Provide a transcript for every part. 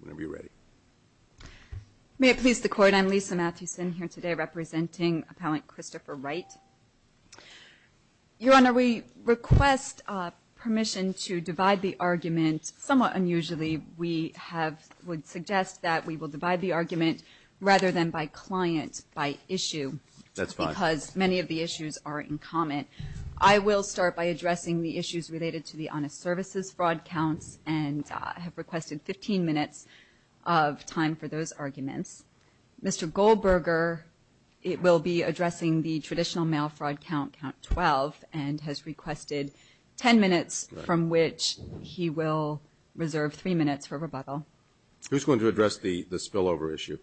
Whenever you're ready. May it please the Court, I'm Lisa Mathewson here today representing Appellant Christopher Wright. Your Honor, we request permission to divide the argument. Somewhat unusually, we have would suggest that we will divide the argument rather than by client, by issue. That's fine. Because many of the issues are in comment. I will start by I have requested 15 minutes of time for those arguments. Mr. Goldberger will be addressing the traditional mail fraud count, count 12, and has requested 10 minutes from which he will reserve 3 minutes for rebuttal. Who's going to address the spillover issue?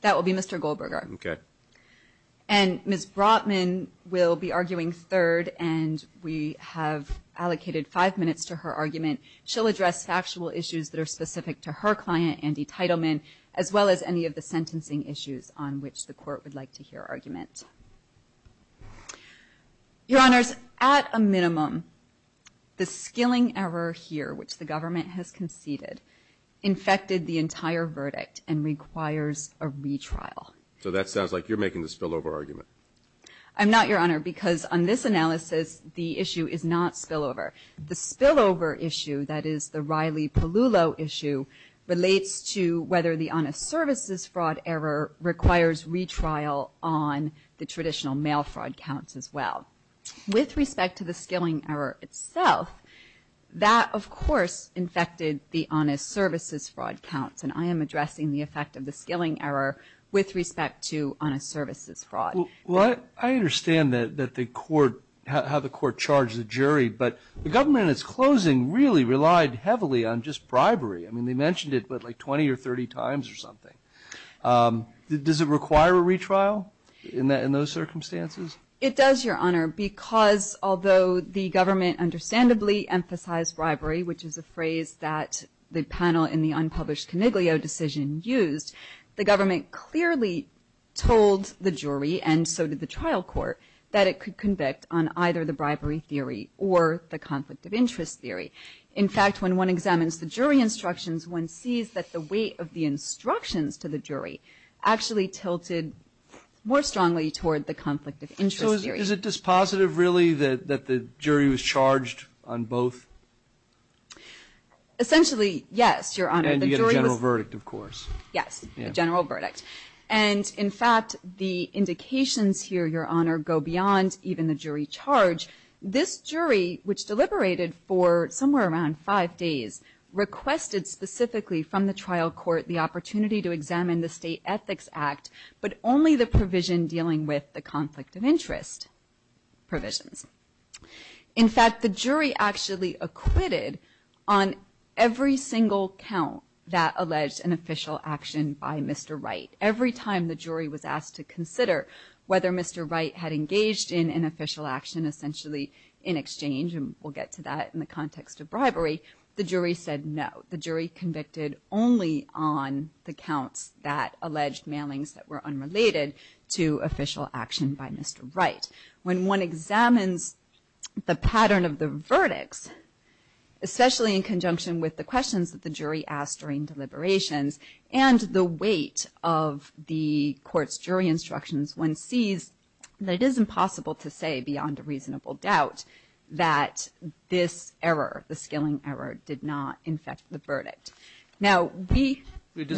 That will be Mr. Goldberger. Okay.And Ms. Brotman will be arguing third and we have allocated 5 minutes to her argument. She'll address factual issues that are specific to her client, Andy Teitelman, as well as any of the sentencing issues on which the Court would like to hear argument. Your Honors, at a minimum, the skilling error here, which the Government has conceded, infected the entire verdict and requires a retrial. So that the issue is not spillover. The spillover issue, that is the Riley-Pellullo issue, relates to whether the honest services fraud error requires retrial on the traditional mail fraud counts as well. With respect to the skilling error itself, that of course infected the honest services fraud counts. And I am addressing the effect of the skilling error with respect to how the Court charged the jury. But the Government in its closing really relied heavily on just bribery. I mean, they mentioned it like 20 or 30 times or something. Does it require a retrial in those circumstances? It does, Your Honor, because although the Government understandably emphasized bribery, which is a phrase that the panel in the unpublished Coniglio decision used, the Government clearly told the jury, and so did the trial court, that it could convict on either the bribery theory or the conflict of interest theory. In fact, when one examines the jury instructions, one sees that the weight of the instructions to the jury actually tilted more strongly toward the conflict of interest theory. So is it dispositive really that the jury was charged on both? Essentially, yes, Your Honor.And you get a general verdict, of course. Yes, a general verdict. And in fact, the indications here, Your Honor, go beyond even the jury charge. This jury, which deliberated for somewhere around five days, requested specifically from the trial court the opportunity to examine the State Ethics Act, but only the provision dealing with the conflict of interest provisions.In fact, the jury actually acquitted on every single count that alleged an official action by Mr. Wright. Every time the jury was asked to consider whether Mr. Wright had engaged in an official action, essentially in exchange, and we'll get to that in the context of bribery, the jury said no. The jury convicted only on the counts that alleged mailings that were unrelated to official action by Mr. Wright.When one examines the pattern of the verdicts, especially in conjunction with the questions that the jury asked during deliberations and the weight of the court's jury instructions, one sees that it is impossible to say beyond a reasonable doubt that this error, the skilling error, did not infect the verdict. Now, we...Did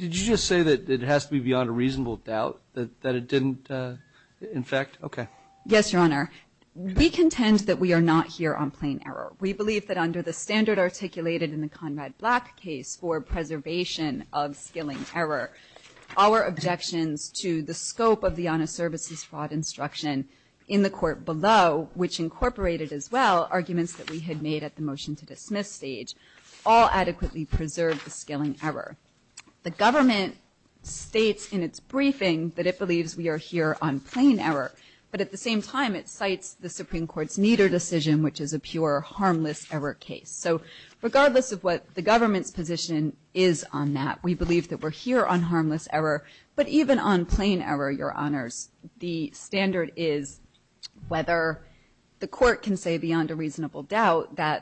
you just say that it has to be beyond a reasonable doubt that it didn't infect? Okay.Yes, Your Honor. We contend that we are not here on plain error. We believe that under the standard articulated in the Conrad Black case for preservation of skilling error, our objections to the scope of the honest services fraud instruction in the court below, which incorporated as well arguments that we had made at the motion to dismiss stage, all of which are in the Supreme Court's briefing, that it believes we are here on plain error, but at the same time it cites the Supreme Court's neater decision, which is a pure harmless error case. So regardless of what the government's position is on that, we believe that we're here on harmless error, but even on plain error, Your Honors, the standard is whether the court can say beyond a sufficient acquittal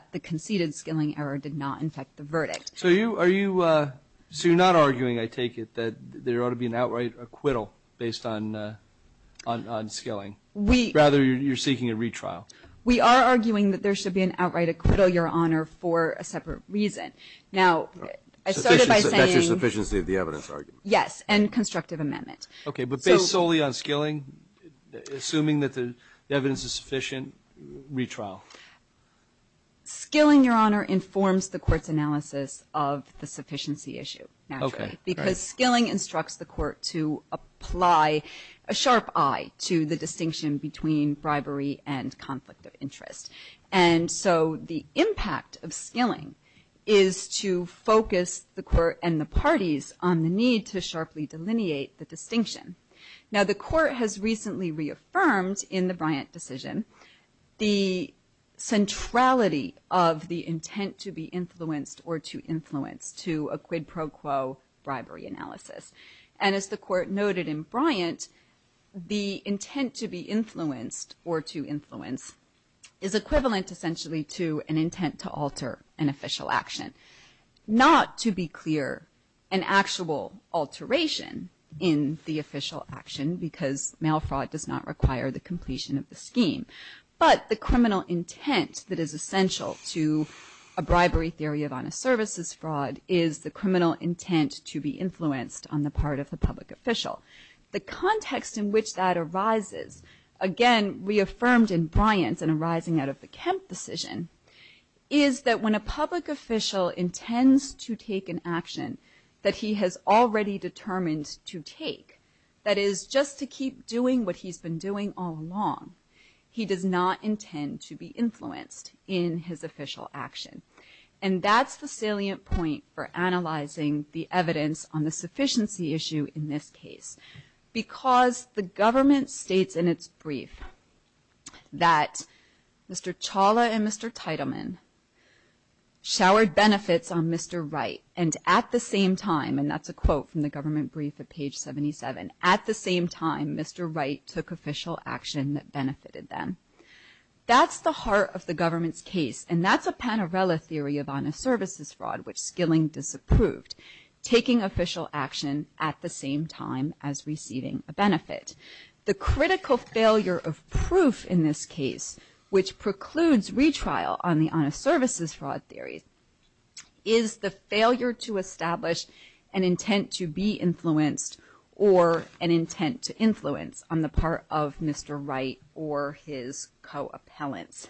based on skilling. Rather, you're seeking a retrial. We are arguing that there should be an outright acquittal, Your Honor, for a separate reason. Now, I started by saying... That's your sufficiency of the evidence argument. Yes, and constructive amendment. Okay, but based solely on skilling, assuming that the evidence is sufficient, retrial. Skilling, Your Honor, informs the court's ability to apply a sharp eye to the distinction between bribery and conflict of interest. And so the impact of skilling is to focus the court and the parties on the need to sharply delineate the distinction. Now, the court has recently reaffirmed in the Bryant decision the centrality of the intent to be influenced or to influence to a quid pro quo bribery analysis. And as the court noted in Bryant, the intent to be influenced or to influence is equivalent essentially to an intent to alter an official action. Not to be clear, an actual alteration in the official action, because mail fraud does not require the completion of the scheme. But the criminal intent that is essential to a bribery theory of honest services fraud is the criminal intent to be influenced on the part of the public official. The context in which that arises, again, reaffirmed in Bryant and arising out of the Kemp decision, is that when a public official intends to take an action that he has already determined to take, that is just to keep doing what he's been doing all along, he does not intend to be influenced in his official action. And that's the salient point for analyzing the evidence on the sufficiency issue in this case. Because the government states in its brief that Mr. Chawla and Mr. Teitelman showered benefits on Mr. Wright, and at the same time, and that's a critical failure of proof in this case, which precludes retrial on the honest services fraud theory, is the failure to establish an intent to be influenced or an intent to be influenced by Mr. Wright or his co-appellants.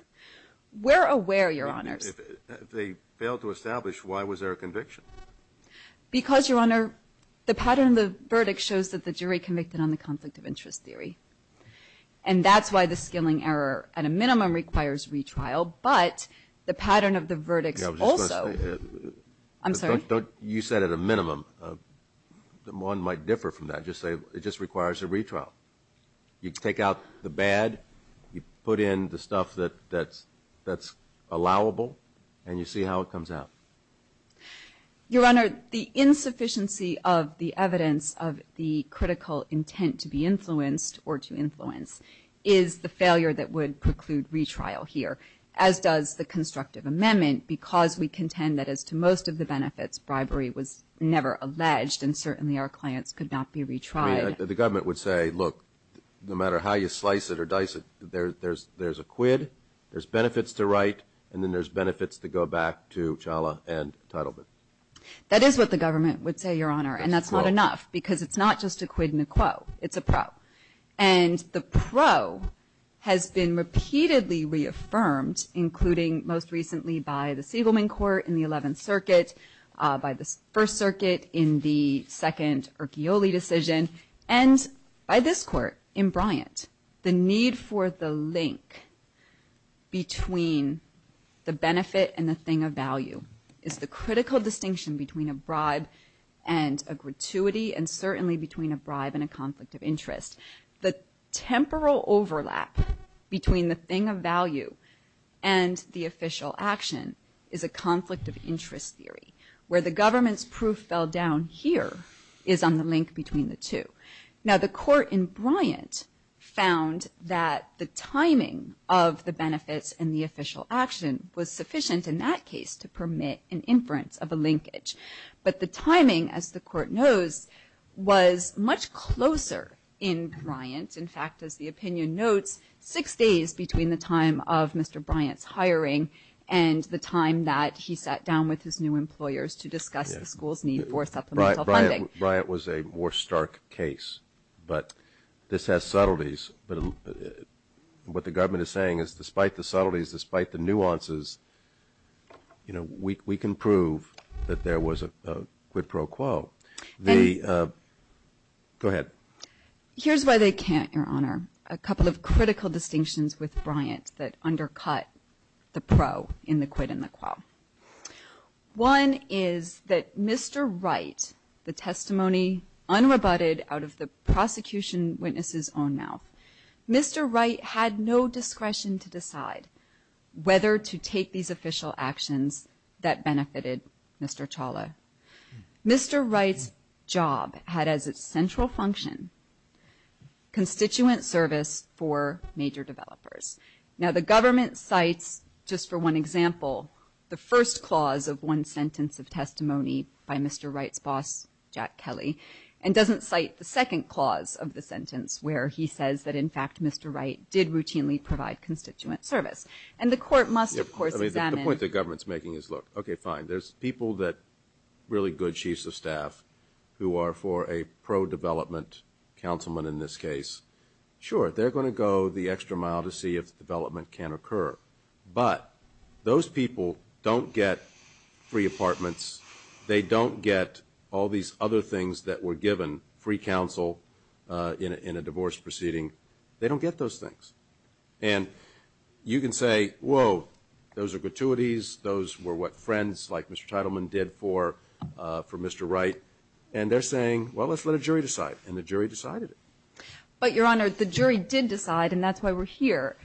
We're aware, Your Honors. If they failed to establish, why was there a conviction? Because, Your Honor, the pattern of the verdict shows that the jury convicted on the conflict of interest theory. And that's why the skilling error at a minimum requires retrial, but the pattern of the verdicts also. I'm sorry? You said at a minimum. One might differ from that. Just say it just requires a retrial. You take out the bad, you put in the stuff that's allowable, and you see how it comes out. Your Honor, the insufficiency of the evidence of the critical intent to be influenced or to influence is the failure that would preclude retrial here, as does the constructive amendment, because we contend that as to most of the benefits, bribery was never alleged, and certainly our clients could not be retried. I mean, the government would say, look, no matter how you slice it or dice it, there's a quid, there's benefits to right, and then there's benefits to go back to challah and entitlement. That is what the government would say, Your Honor, and that's not enough, because it's not just a quid and a quo. It's a pro, and the pro has been repeatedly reaffirmed, including most recently by the Siegelman Court in the 11th Circuit, by the First Circuit in the second Urquioli decision, and by this Court in Bryant. The need for the link between the benefit and the thing of value is the conflict of interest. The temporal overlap between the thing of value and the official action is a conflict of interest theory, where the government's proof fell down here is on the link between the two. Now, the Court in Bryant found that the timing of the benefits and the official action was sufficient in that case to permit an inference of a linkage, but the link was much closer in Bryant. In fact, as the opinion notes, six days between the time of Mr. Bryant's hiring and the time that he sat down with his new employers to discuss the school's need for supplemental funding. Bryant was a more stark case, but this has subtleties, but what the government is saying is despite the subtleties, despite the nuances, we can prove that there was a quid pro quo. Go ahead. Here's why they can't, Your Honor, a couple of critical distinctions with Bryant that undercut the pro in the quid and the quo. One is that Mr. Wright, the testimony unrebutted out of the prosecution witness's own mouth, Mr. Wright had no discretion to decide whether to take these official actions that benefited Mr. Chawla. Mr. Wright's job had as its central function constituent service for major developers. Now the government cites just for one example the first clause of one sentence of testimony by Mr. Wright's boss, Jack Kelly, and doesn't cite the second clause of the sentence where he says that in fact Mr. Wright did routinely provide constituent service. And the court must, of course, examine The point the government's making is look, okay, fine, there's people that really good chiefs of staff who are for a pro-development councilman in this case. Sure, they're going to go the extra mile to see if development can occur, but those people don't get free apartments, they don't get all these other things that were given, free counsel in a divorce proceeding, they don't get those things. And you can say, whoa, those are gratuities, those were what friends like Mr. Teitelman did for Mr. Wright, and they're saying, well, let's let a jury decide. And the jury decided it. But, Your Honor, the jury did decide and that's why we're here.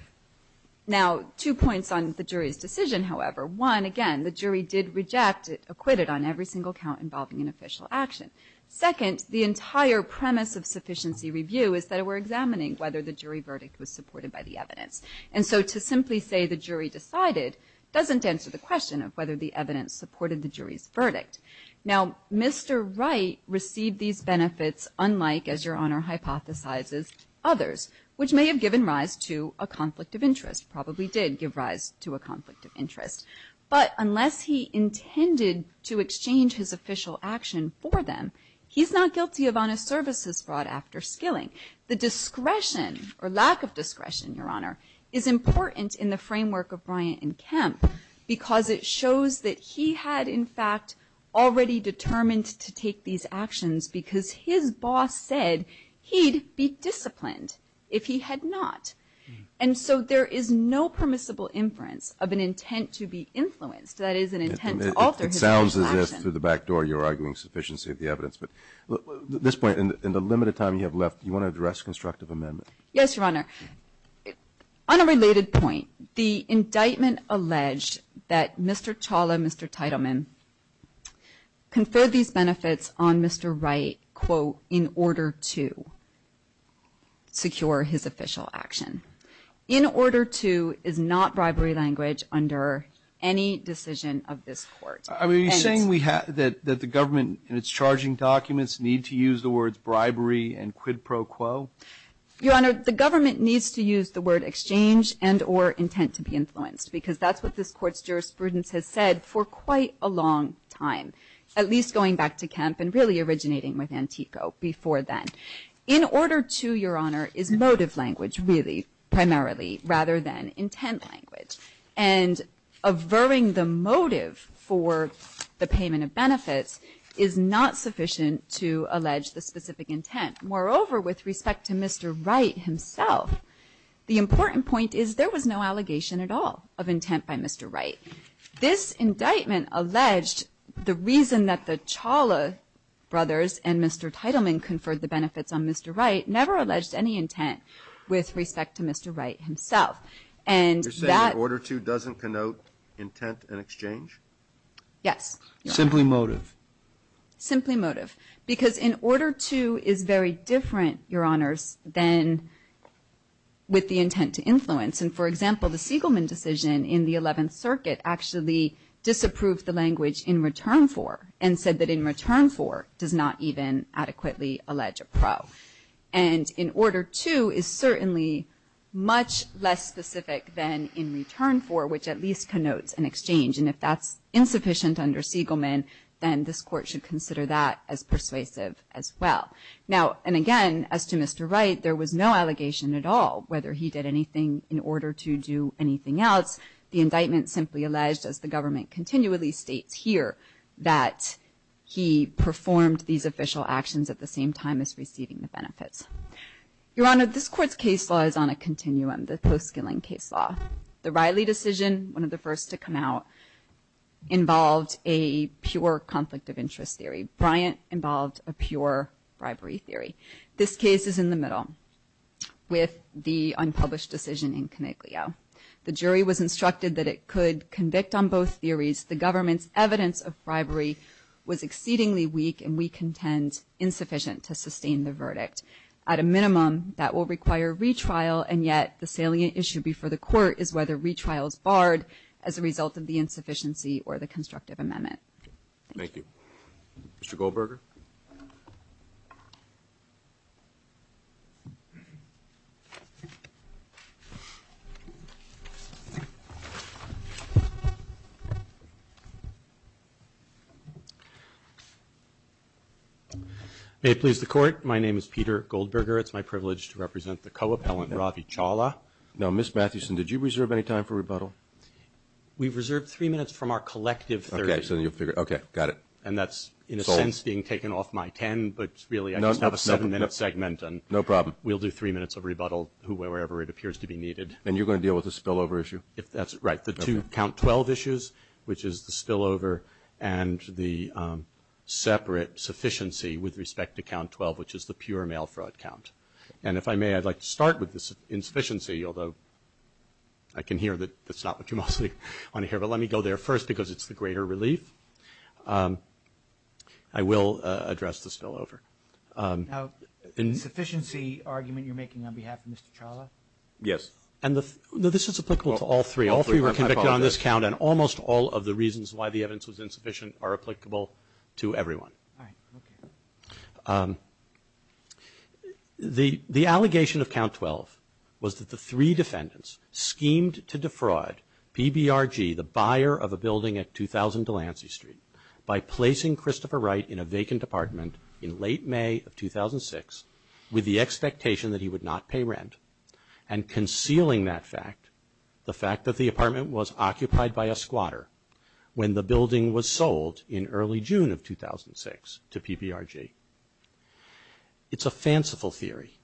Now, two points on the jury's decision, however. One, again, the jury did reject it, acquit it on every single count involving an official action. Second, the entire premise of sufficiency review is that we're examining whether the jury verdict was supported by the evidence. And so to simply say the jury decided doesn't answer the question of whether the evidence supported the jury's verdict. Now, Mr. Wright received these benefits unlike, as Your Honor hypothesizes, others, which may have given rise to a conflict of interest, probably did give rise to a conflict of interest. But unless he intended to exchange his official action for them, he's not guilty of honest services brought after skilling. The discretion, or lack of discretion, Your Honor, is important in the framework of Bryant and Kemp, because it shows that he had, in fact, already determined to take these actions because his boss said he'd be disciplined if he had not. And so there is no permissible inference of an intent to be influenced, that is, an intent to alter his official action. It sounds as if through the back door you're arguing sufficiency of the evidence. But at this point, in the limited time you have left, do you want to address constructive amendment? Yes, Your Honor. On a related point, the indictment alleged that Mr. Chawla and Mr. Teitelman conferred these benefits on Mr. Wright, quote, in order to secure his official action. In order to is not bribery language under any decision of this Court. Are you saying that the government and its charging documents need to use the words bribery and quid pro quo? Your Honor, the government needs to use the word exchange and or intent to be influenced, because that's what this Court's jurisprudence has said for quite a long time, at least going back to Kemp and really originating with Antico before then. In order to, Your Honor, is motive language, really, primarily, rather than intent language. And averring the motive for the payment of benefits is not sufficient to allege the specific intent. Moreover, with respect to Mr. Wright himself, the important point is there was no allegation at all of intent by Mr. Wright. This indictment alleged the reason that the Chawla brothers and Mr. Teitelman conferred the benefits on Mr. Wright never alleged any intent with respect to Mr. Wright himself. And that You're saying that order to doesn't connote intent and exchange? Yes. Simply motive. Simply motive. Because in order to is very different, Your Honors, than with the intent to influence. And, for example, the Siegelman decision in the Eleventh Circuit actually disapproved the language in return for and said that in return for does not even adequately allege a pro. And in order to is certainly much less specific than in return for, which at least connotes an exchange. And if that's insufficient under Siegelman, then this court should consider that as persuasive as well. Now, and again, as to Mr. Wright, there was no allegation at all whether he did anything in order to do anything else. The indictment simply alleged, as the government continually states here, that he performed these official actions at the same time as receiving the benefits. Your Honor, this court's case law is on a continuum, the post-Skilling case law. The Riley decision, one of the first to come out, involved a pure conflict of interest theory. Bryant involved a pure bribery theory. This case is in the middle with the unpublished decision in Coniglio. The jury was instructed that it could convict on both theories the government's was exceedingly weak, and we contend insufficient to sustain the verdict. At a minimum, that will require retrial, and yet the salient issue before the court is whether retrial is barred as a result of the insufficiency or the constructive amendment. Thank you. Mr. Goldberger? May it please the Court, my name is Peter Goldberger. It's my privilege to represent the co-appellant, Ravi Chawla. Now, Ms. Mathewson, did you reserve any time for rebuttal? We've reserved three minutes from our collective 30 minutes. Okay. Got it. And that's, in a sense, being taken off my 10, but really I just have a seven-minute segment. No problem. We'll do three minutes of rebuttal, wherever it appears to be needed. And you're going to deal with the spillover issue? Right. The two count 12 issues, which is the spillover and the separate sufficiency with respect to count 12, which is the pure mail fraud count. And if I may, I'd like to start with the insufficiency, although I can hear that that's not what you mostly want to hear, but let me go there first because it's the greater relief. I will address the spillover. Now, insufficiency argument you're making on behalf of Mr. Chawla? Yes. No, this is applicable to all three. All three were convicted on this count, and almost all of the reasons why the evidence was insufficient are applicable to everyone. All right. Okay. The allegation of count 12 was that the three defendants schemed to defraud PBRG, the buyer of a building at 2000 Delancey Street, by placing Christopher Wright in a vacant apartment in late May of 2006 with the expectation that he would not pay rent, and concealing that fact, the fact that the apartment was occupied by a squatter when the building was sold in early June of 2006 to PBRG. It's a fanciful theory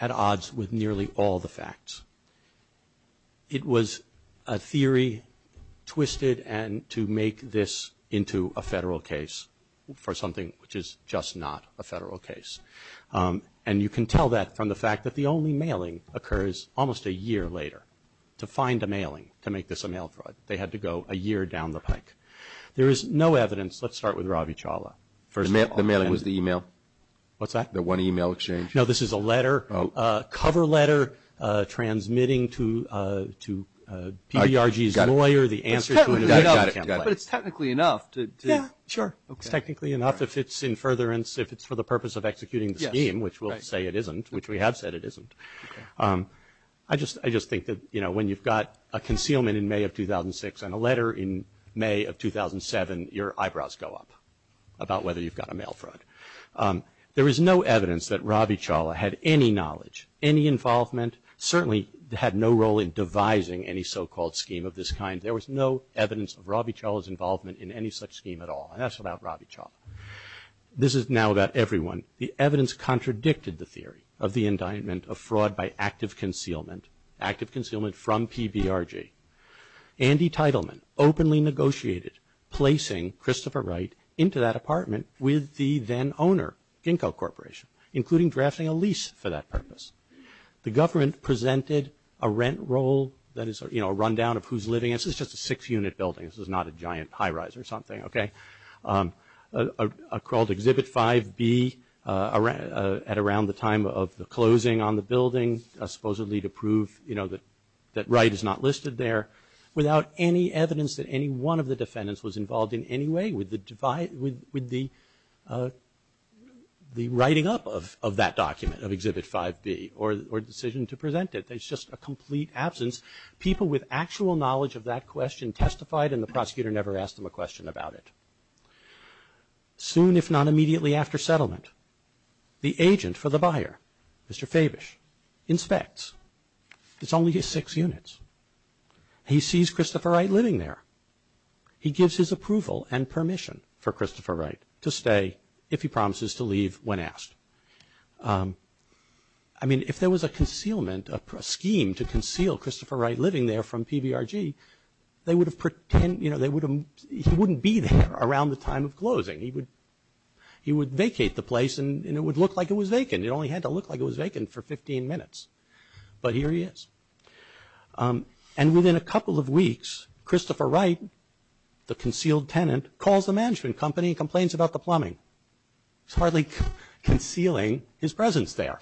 at odds with nearly all the facts. It was a theory twisted to make this into a federal case for something which is just not a federal case. And you can tell that from the fact that the only mailing occurs almost a year later to find a mailing to make this a mail fraud. They had to go a year down the pike. There is no evidence. Let's start with Ravi Chawla. The mailing was the email. What's that? The one email exchange. No, this is a letter, a cover letter, transmitting to PBRG's lawyer the answer to an email campaign. But it's technically enough. Yeah, sure. It's technically enough if it's in furtherance, if it's for the purpose of executing the scheme, which we'll say it isn't, which we have said it isn't. I just think that, you know, when you've got a concealment in May of 2006 and a letter in May of 2007, your eyebrows go up about whether you've got a mail fraud. There is no evidence that Ravi Chawla had any knowledge, any involvement, certainly had no role in devising any so-called scheme of this kind. There was no evidence of Ravi Chawla's involvement in any such scheme at all, and that's without Ravi Chawla. This is now about everyone. The evidence contradicted the theory of the indictment of fraud by active concealment, active concealment from PBRG. Andy Teitelman openly negotiated placing Christopher Wright into that apartment with the then owner, Ginkgo Corporation, including drafting a lease for that purpose. The government presented a rent roll that is, you know, a rundown of who's living in it. This is just a six-unit building. This is not a giant high-rise or something, okay? Called Exhibit 5B at around the time of the closing on the building, supposedly to prove, you know, that Wright is not listed there, without any evidence that any one of the defendants was involved in any way with the writing up of that document, of Exhibit 5B, or decision to present it. There's just a complete absence. People with actual knowledge of that question testified, and the prosecutor never asked them a question about it. Soon, if not immediately after settlement, the agent for the buyer, Mr. Fabish, inspects. It's only his six units. He sees Christopher Wright living there. He gives his approval and permission for Christopher Wright to stay, if he promises to leave when asked. I mean, if there was a concealment, a scheme to conceal Christopher Wright living there from PBRG, they would have pretend, you know, he wouldn't be there around the time of closing. He would vacate the place, and it would look like it was vacant. It only had to look like it was vacant for 15 minutes. But here he is. And within a couple of weeks, Christopher Wright, the concealed tenant, calls the management company and complains about the plumbing. He's hardly concealing his presence there.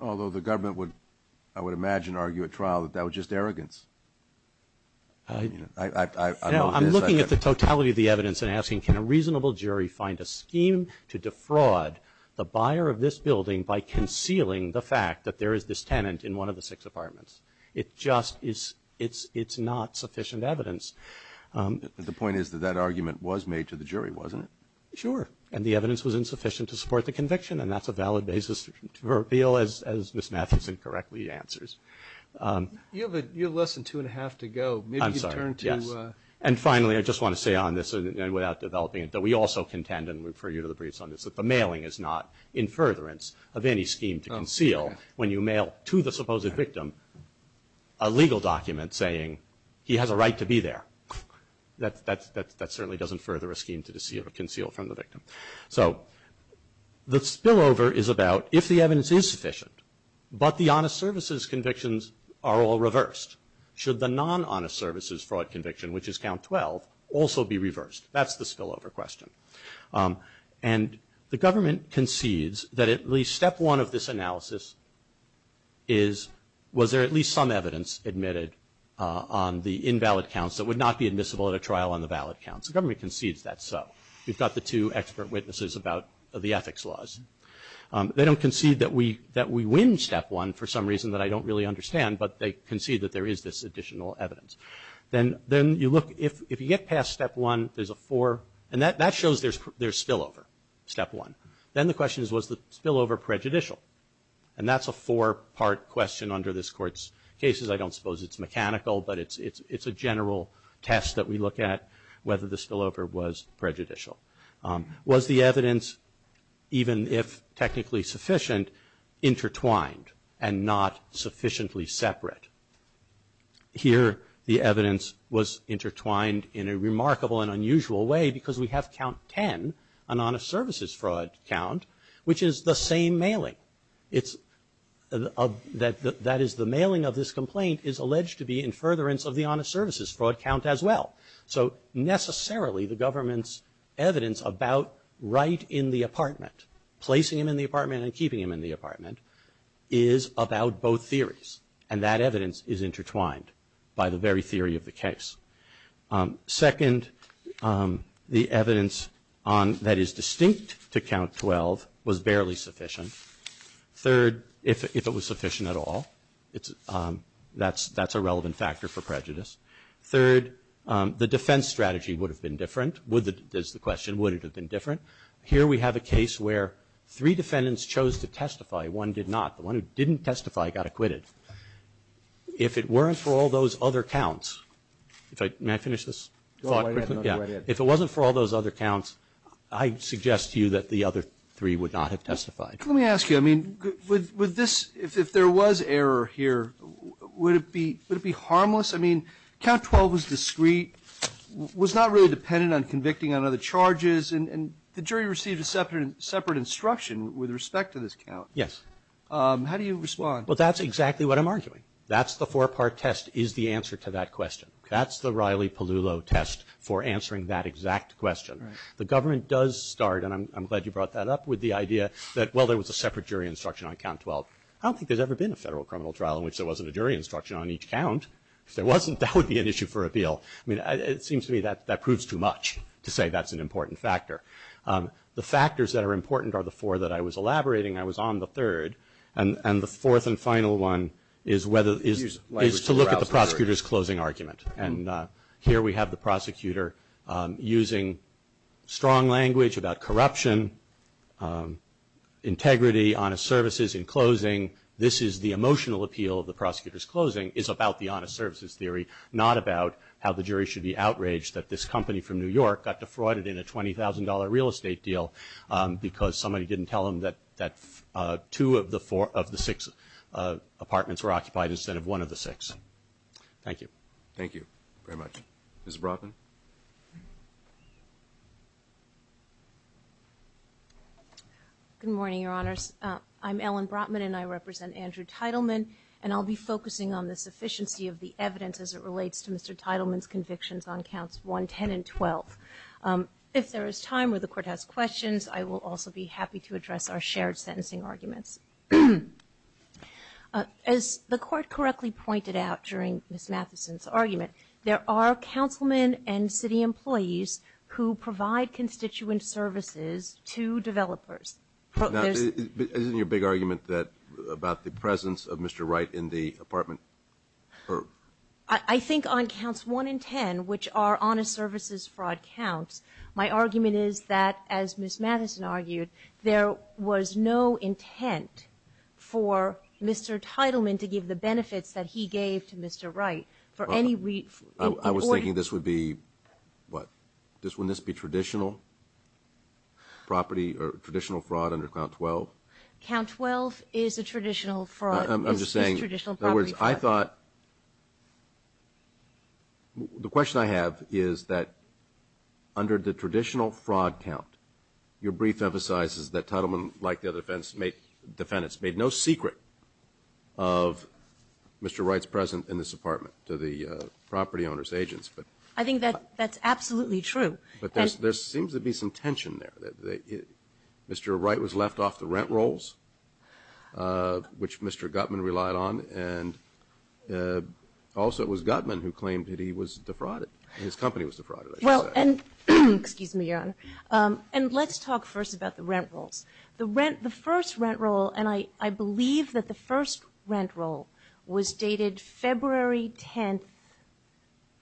Although the government would, I would imagine, argue at trial, that that was just arrogance. You know, I'm looking at the totality of the evidence and asking, can a reasonable jury find a scheme to defraud the buyer of this building by where is this tenant in one of the six apartments? It just is, it's not sufficient evidence. The point is that that argument was made to the jury, wasn't it? Sure. And the evidence was insufficient to support the conviction, and that's a valid basis to reveal, as Ms. Matheson correctly answers. You have less than two and a half to go. I'm sorry. Yes. And finally, I just want to say on this, without developing it, that we also contend, and refer you to the briefs on this, that the mailing is not in furtherance of any scheme to conceal when you mail to the supposed victim a legal document saying, he has a right to be there. That certainly doesn't further a scheme to conceal from the victim. So the spillover is about if the evidence is sufficient, but the honest services convictions are all reversed, should the non-honest services fraud conviction, which is count 12, also be reversed? That's the spillover question. And the government concedes that at least step one of this analysis is, was there at least some evidence admitted on the invalid counts that would not be admissible at a trial on the valid counts? The government concedes that's so. We've got the two expert witnesses about the ethics laws. They don't concede that we win step one for some reason that I don't really understand, but they concede that there is this additional evidence. Then you look, if you get past step one, there's a four, and that shows there's spillover, step one. Then the question is, was the spillover prejudicial? And that's a four-part question under this Court's cases. I don't suppose it's mechanical, but it's a general test that we look at, whether the spillover was prejudicial. Was the evidence, even if technically sufficient, intertwined and not sufficiently separate? Here the evidence was intertwined in a remarkable and unusual way because we have count 10, an honest services fraud count, which is the same mailing. That is, the mailing of this complaint is alleged to be in furtherance of the honest services fraud count as well. So necessarily the government's evidence about right in the apartment, placing him in the apartment and keeping him in the apartment, is about both theories. And that evidence is intertwined by the very theory of the case. Second, the evidence that is distinct to count 12 was barely sufficient. Third, if it was sufficient at all, that's a relevant factor for prejudice. Third, the defense strategy would have been different, is the question, would it have been different? Here we have a case where three defendants chose to testify, one did not. The one who didn't testify got acquitted. If it weren't for all those other counts, if I, may I finish this? Go right ahead. If it wasn't for all those other counts, I suggest to you that the other three would not have testified. Let me ask you, I mean, with this, if there was error here, would it be harmless? I mean, count 12 was discreet, was not really dependent on convicting on other charges, and the jury received a separate instruction with respect to this count. Yes. How do you respond? Well, that's exactly what I'm arguing. That's the four-part test is the answer to that question. That's the Riley-Pellullo test for answering that exact question. The government does start, and I'm glad you brought that up, with the idea that, well, there was a separate jury instruction on count 12. I don't think there's ever been a federal criminal trial in which there wasn't a jury instruction on each count. If there wasn't, that would be an issue for appeal. I mean, it seems to me that that proves too much to say that's an important factor. The factors that are important are the four that I was elaborating, I was on the third, and the fourth and final one is to look at the prosecutor's closing argument. And here we have the prosecutor using strong language about corruption, integrity, honest services in closing. This is the emotional appeal of the prosecutor's closing, is about the honest services theory, not about how the jury should be outraged that this company from New York got defrauded in a $20,000 real estate deal because somebody didn't tell them that two of the six apartments were occupied instead of one of the six. Thank you. Thank you very much. Ms. Brotman? Good morning, Your Honors. I'm Ellen Brotman, and I represent Andrew Teitelman, and I'll be focusing on the sufficiency of the evidence as it relates to Mr. Teitelman's convictions on counts 1, 10, and 12. If there is time or the Court has questions, I will also be happy to address our shared sentencing arguments. As the Court correctly pointed out during Ms. Mathison's argument, there are councilmen and city employees who provide constituent services to developers. Isn't your big argument about the presence of Mr. Wright in the apartment? I think on counts 1 and 10, which are honest services fraud counts, my argument is that, as Ms. Mathison argued, there was no intent for Mr. Teitelman to give the benefits that he gave to Mr. Wright for any reason. I was thinking this would be what? Wouldn't this be traditional property or traditional fraud under count 12? Count 12 is a traditional fraud. I'm just saying, in other words, I thought the question I have is that under the traditional fraud count, your brief emphasizes that Teitelman, like the other defendants, made no secret of Mr. Wright's presence in this apartment to the property owners' agents. I think that's absolutely true. But there seems to be some tension there. Mr. Wright was left off the rent rolls, which Mr. Gutman relied on, and also it was Gutman who claimed that he was defrauded, his company was defrauded, I should say. Excuse me, Your Honor. And let's talk first about the rent rolls. The first rent roll, and I believe that the first rent roll was dated February 10,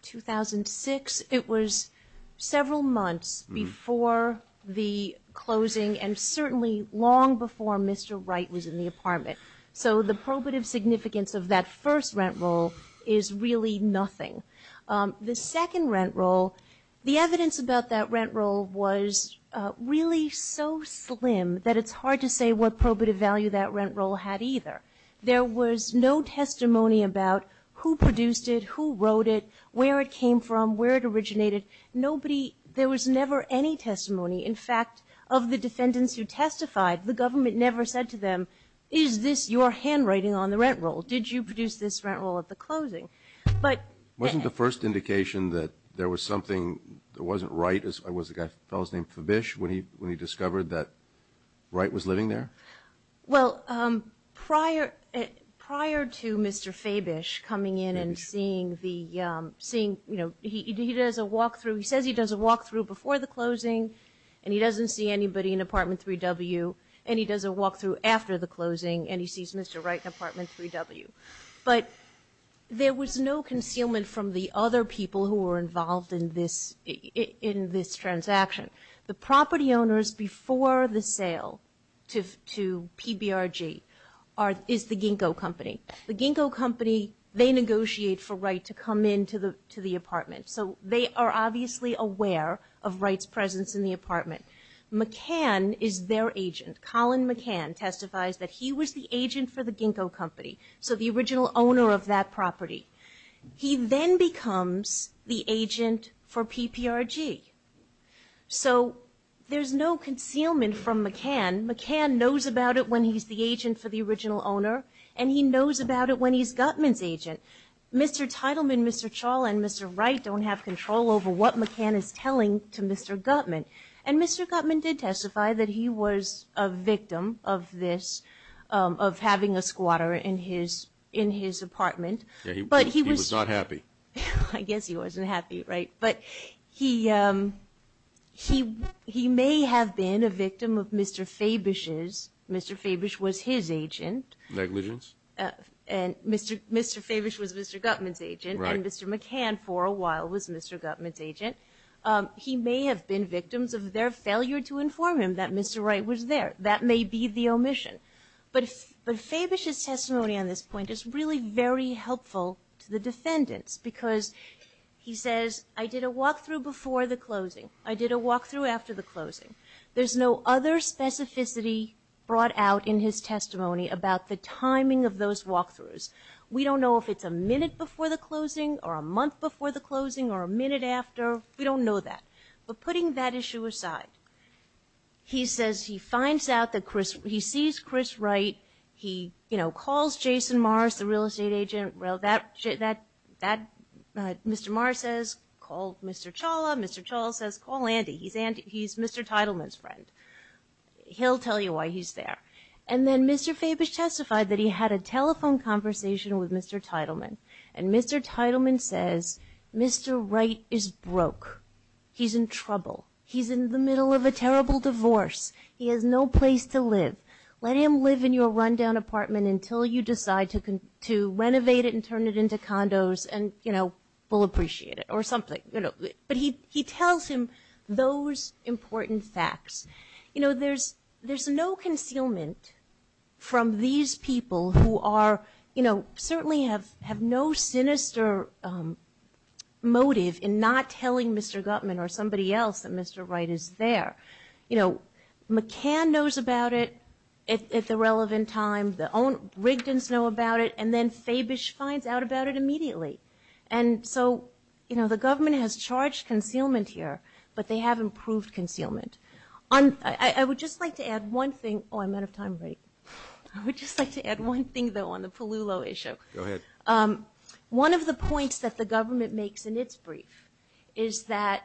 2006. It was several months before the closing and certainly long before Mr. Wright was in the apartment. So the probative significance of that first rent roll is really nothing. The second rent roll, the evidence about that rent roll was really so slim that it's hard to say what probative value that rent roll had either. There was no testimony about who produced it, who wrote it, where it came from, where it originated. Nobody, there was never any testimony. In fact, of the defendants who testified, the government never said to them, is this your handwriting on the rent roll? Did you produce this rent roll at the closing? Wasn't the first indication that there was something that wasn't Wright, was it a fellow named Fabish when he discovered that Wright was living there? Well, prior to Mr. Fabish coming in and seeing the, you know, he does a walk-through, he says he does a walk-through before the closing, and he doesn't see anybody in apartment 3W, and he does a walk-through after the closing and he sees Mr. Wright in apartment 3W. But there was no concealment from the other people who were involved in this transaction. The property owners before the sale to PBRG is the Ginkgo Company. The Ginkgo Company, they negotiate for Wright to come into the apartment, so they are obviously aware of Wright's presence in the apartment. McCann is their agent. Colin McCann testifies that he was the agent for the Ginkgo Company, so the original owner of that property. He then becomes the agent for PBRG. So there's no concealment from McCann. McCann knows about it when he's the agent for the original owner, and he knows about it when he's Gutman's agent. Mr. Teitelman, Mr. Chall, and Mr. Wright don't have control over what McCann is telling to Mr. Gutman. And Mr. Gutman did testify that he was a victim of this, of having a squatter in his apartment. Yeah, he was not happy. I guess he wasn't happy, right? But he may have been a victim of Mr. Fabish's. Mr. Fabish was his agent. Negligence. And Mr. Fabish was Mr. Gutman's agent, and Mr. McCann for a while was Mr. Gutman's agent. He may have been victims of their failure to inform him that Mr. Wright was there. That may be the omission. But Fabish's testimony on this point is really very helpful to the defendants because he says, I did a walkthrough before the closing. I did a walkthrough after the closing. There's no other specificity brought out in his testimony about the timing of those walkthroughs. We don't know if it's a minute before the closing or a month before the closing or a minute after. We don't know that. But putting that issue aside, he says he finds out that Chris, he sees Chris Wright. He calls Jason Morris, the real estate agent. Mr. Morris says, call Mr. Chawla. Mr. Chawla says, call Andy. He's Mr. Teitelman's friend. He'll tell you why he's there. And then Mr. Fabish testified that he had a telephone conversation with Mr. Teitelman. And Mr. Teitelman says, Mr. Wright is broke. He's in trouble. He's in the middle of a terrible divorce. He has no place to live. Let him live in your rundown apartment until you decide to renovate it and turn it into condos and, you know, we'll appreciate it or something. But he tells him those important facts. You know, there's no concealment from these people who are, you know, certainly have no sinister motive in not telling Mr. Gutman or somebody else that Mr. Wright is there. You know, McCann knows about it at the relevant time. The Rigdons know about it. And then Fabish finds out about it immediately. And so, you know, the government has charged concealment here, but they haven't proved concealment. I would just like to add one thing. Oh, I'm out of time, right? I would just like to add one thing, though, on the Palulo issue. Go ahead. One of the points that the government makes in its brief is that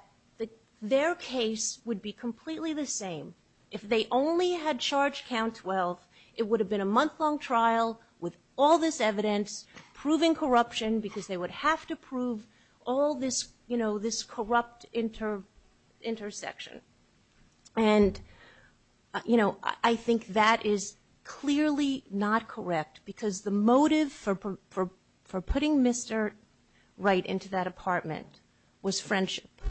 their case would be completely the same if they only had charged Count 12. It would have been a month-long trial with all this evidence proving corruption because they would have to prove all this, you know, this corrupt intersection. And, you know, I think that is clearly not correct because the motive for putting Mr. Wright into that apartment was friendship.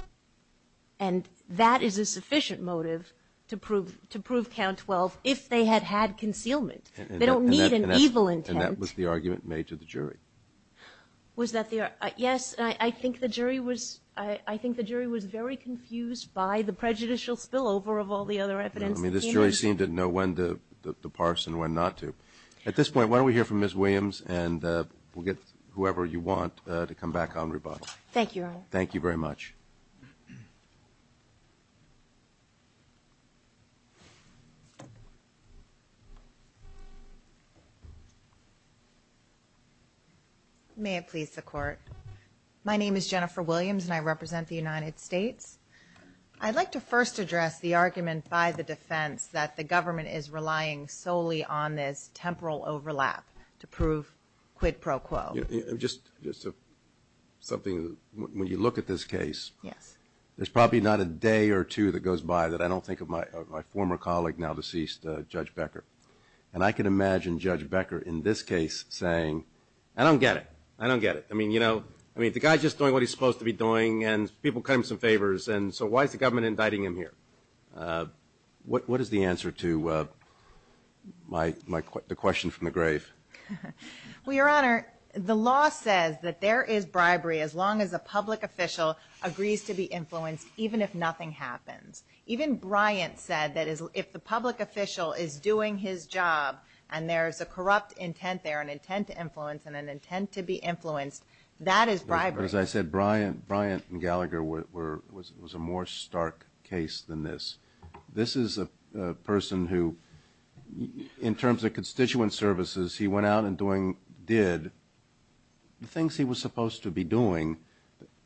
And that is a sufficient motive to prove Count 12 if they had had concealment. They don't need an evil intent. And that was the argument made to the jury. Was that the argument? Yes. I think the jury was very confused by the prejudicial spillover of all the other evidence that came in. I mean, this jury seemed to know when to parse and when not to. At this point, why don't we hear from Ms. Williams, and we'll get whoever you want to come back on rebuttal. Thank you, Your Honor. Thank you very much. May it please the Court. My name is Jennifer Williams, and I represent the United States. I'd like to first address the argument by the defense that the government is solely on this temporal overlap to prove quid pro quo. Just something, when you look at this case, there's probably not a day or two that goes by that I don't think of my former colleague, now deceased, Judge Becker. And I can imagine Judge Becker in this case saying, I don't get it. I don't get it. I mean, you know, the guy's just doing what he's supposed to be doing, and people cut him some favors, and so why is the government indicting him here? What is the answer to the question from the grave? Well, Your Honor, the law says that there is bribery as long as a public official agrees to be influenced, even if nothing happens. Even Bryant said that if the public official is doing his job, and there's a corrupt intent there, an intent to influence, and an intent to be influenced, that is bribery. As I said, Bryant and Gallagher was a more stark case than this. This is a person who, in terms of constituent services, he went out and did the things he was supposed to be doing.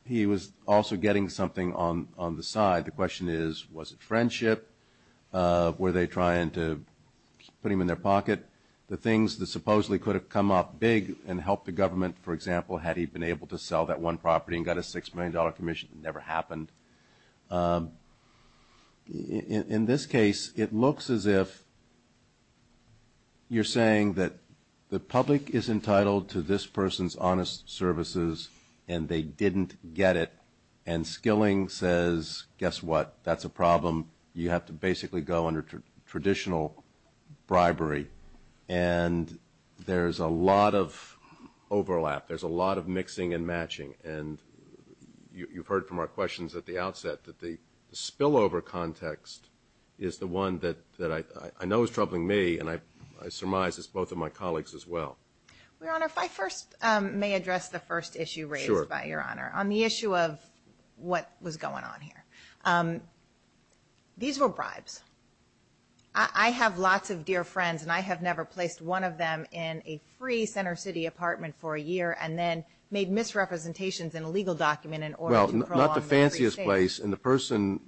He was also getting something on the side. The question is, was it friendship? Were they trying to put him in their pocket? For example, had he been able to sell that one property and got a $6 million commission? It never happened. In this case, it looks as if you're saying that the public is entitled to this person's honest services, and they didn't get it, and Skilling says, guess what? That's a problem. You have to basically go under traditional bribery, and there's a lot of overlap. There's a lot of mixing and matching, and you've heard from our questions at the outset that the spillover context is the one that I know is troubling me, and I surmise it's both of my colleagues as well. Your Honor, if I first may address the first issue raised by Your Honor. Sure. On the issue of what was going on here. These were bribes. I have lots of dear friends, and I have never placed one of them in a free Center City apartment for a year and then made misrepresentations in a legal document in order to prolong their free stay. Well, not the fanciest place, and the person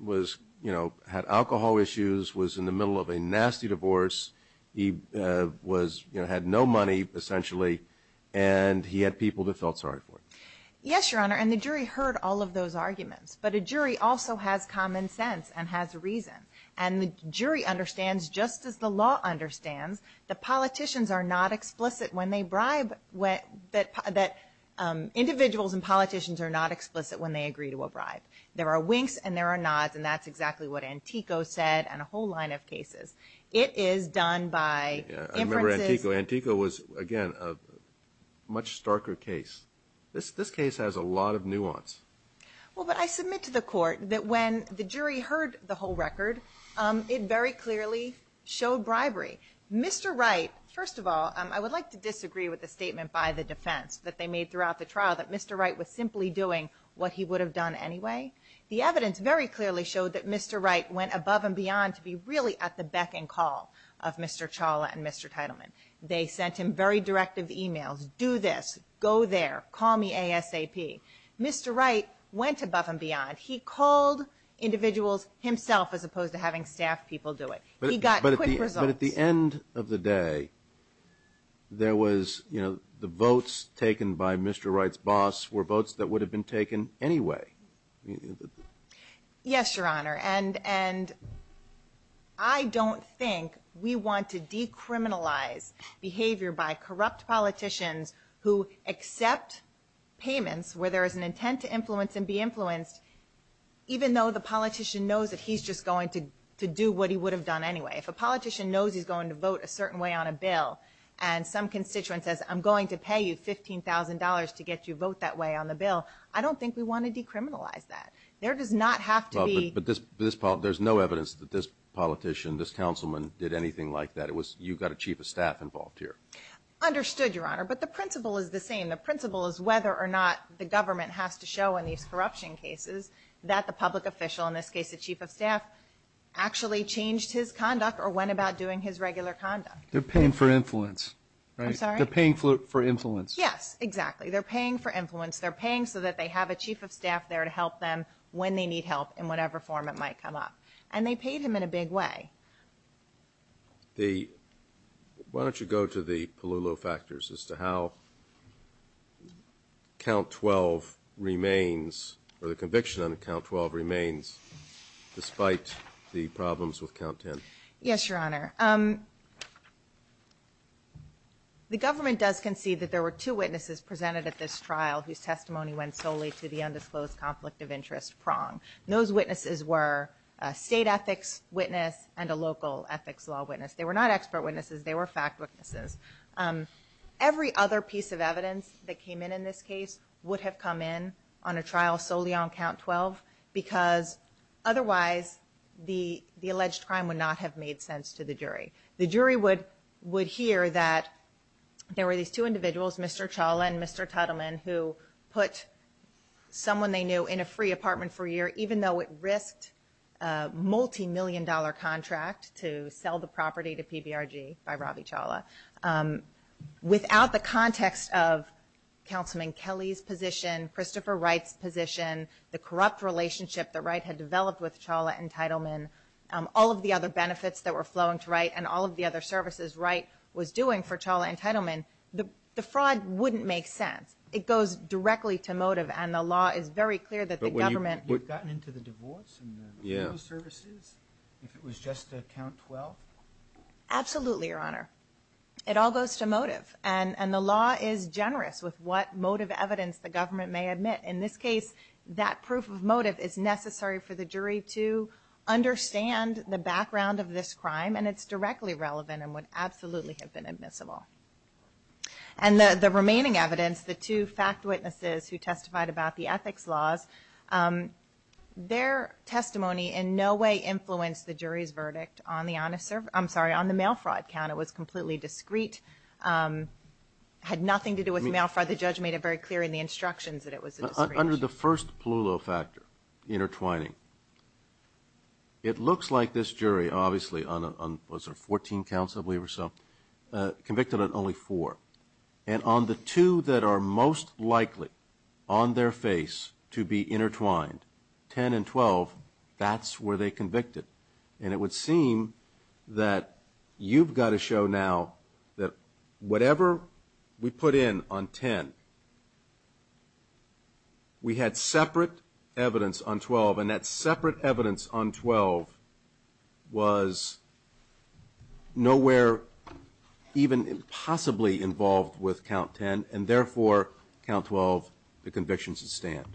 had alcohol issues, was in the middle of a nasty divorce. He had no money, essentially, and he had people that felt sorry for him. Yes, Your Honor, and the jury heard all of those arguments, and the jury understands, just as the law understands, that politicians are not explicit when they bribe, that individuals and politicians are not explicit when they agree to a bribe. There are winks and there are nods, and that's exactly what Antico said on a whole line of cases. It is done by inferences. I remember Antico. Antico was, again, a much starker case. This case has a lot of nuance. Well, but I submit to the court that when the jury heard the whole record, it very clearly showed bribery. Mr. Wright, first of all, I would like to disagree with the statement by the defense that they made throughout the trial that Mr. Wright was simply doing what he would have done anyway. The evidence very clearly showed that Mr. Wright went above and beyond to be really at the beck and call of Mr. Chawla and Mr. Teitelman. They sent him very directive emails. Do this. Go there. Call me ASAP. Mr. Wright went above and beyond. He called individuals himself as opposed to having staff people do it. He got quick results. But at the end of the day, there was, you know, the votes taken by Mr. Wright's boss were votes that would have been taken anyway. Yes, Your Honor, and I don't think we want to decriminalize behavior by corrupt politicians who accept payments where there is an intent to influence and be influenced, even though the politician knows that he's just going to do what he would have done anyway. If a politician knows he's going to vote a certain way on a bill and some constituent says, I'm going to pay you $15,000 to get you to vote that way on the bill, I don't think we want to decriminalize that. There does not have to be – But there's no evidence that this politician, this councilman, did anything like that. You've got a chief of staff involved here. Understood, Your Honor, but the principle is the same. The principle is whether or not the government has to show in these corruption cases that the public official, in this case the chief of staff, actually changed his conduct or went about doing his regular conduct. They're paying for influence, right? I'm sorry? They're paying for influence. Yes, exactly. They're paying for influence. They're paying so that they have a chief of staff there to help them when they need help in whatever form it might come up. And they paid him in a big way. Why don't you go to the Palullo factors as to how Count 12 remains or the conviction on Count 12 remains despite the problems with Count 10? Yes, Your Honor. The government does concede that there were two witnesses presented at this trial whose testimony went solely to the undisclosed conflict of interest prong. Those witnesses were a state ethics witness and a local ethics law witness. They were not expert witnesses. They were fact witnesses. Every other piece of evidence that came in in this case would have come in on a trial solely on Count 12 because otherwise the alleged crime would not have made sense to the jury. The jury would hear that there were these two individuals, Mr. Chawla and Mr. Tuttleman, who put someone they knew in a free apartment for a year, even though it risked a multimillion-dollar contract to sell the property to PBRG by Robbie Chawla. Without the context of Councilman Kelly's position, Christopher Wright's position, the corrupt relationship that Wright had developed with Chawla and Tuttleman, all of the other benefits that were flowing to Wright and all of the other services Wright was doing for Chawla and Tuttleman, the fraud wouldn't make sense. It goes directly to motive, and the law is very clear that the government— But would you have gotten into the divorce and the legal services if it was just Count 12? Absolutely, Your Honor. It all goes to motive, and the law is generous with what motive evidence the government may admit. In this case, that proof of motive is necessary for the jury to understand the background of this crime, and it's directly relevant and would absolutely have been admissible. And the remaining evidence, the two fact witnesses who testified about the ethics laws, their testimony in no way influenced the jury's verdict on the mail fraud count. It was completely discrete, had nothing to do with mail fraud. The judge made it very clear in the instructions that it was a discrete issue. You're under the first Ploulot factor, intertwining. It looks like this jury, obviously, was there 14 counts, I believe, or so, convicted on only four. And on the two that are most likely on their face to be intertwined, 10 and 12, that's where they convicted. And it would seem that you've got to show now that whatever we put in on 10, we had separate evidence on 12, and that separate evidence on 12 was nowhere even possibly involved with Count 10, and therefore, Count 12, the conviction's at stand.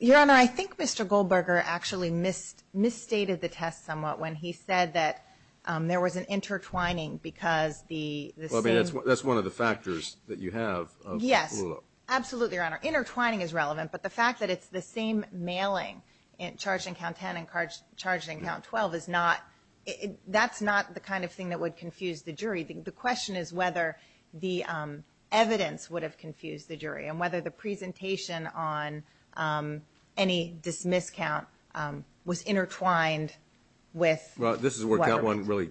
Your Honor, I think Mr. Goldberger actually misstated the test somewhat when he said that there was an intertwining because the same... Well, I mean, that's one of the factors that you have of Ploulot. Yes, absolutely, Your Honor. Intertwining is relevant, but the fact that it's the same mailing, charged in Count 10 and charged in Count 12, that's not the kind of thing that would confuse the jury. The question is whether the evidence would have confused the jury and whether the presentation on any dismissed count was intertwined with... Well, this is where Count 1 really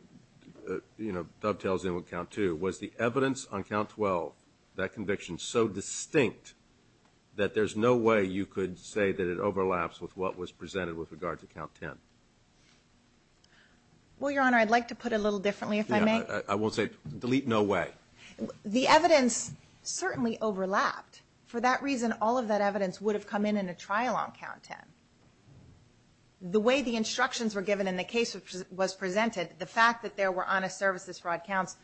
dovetails in with Count 2. Was the evidence on Count 12, that conviction, so distinct that there's no way you could say that it overlaps with what was presented with regard to Count 10? Well, Your Honor, I'd like to put it a little differently, if I may. I won't say, delete no way. The evidence certainly overlapped. For that reason, all of that evidence would have come in in a trial on Count 10. The way the instructions were given and the case was presented, the fact that there were honest services fraud counts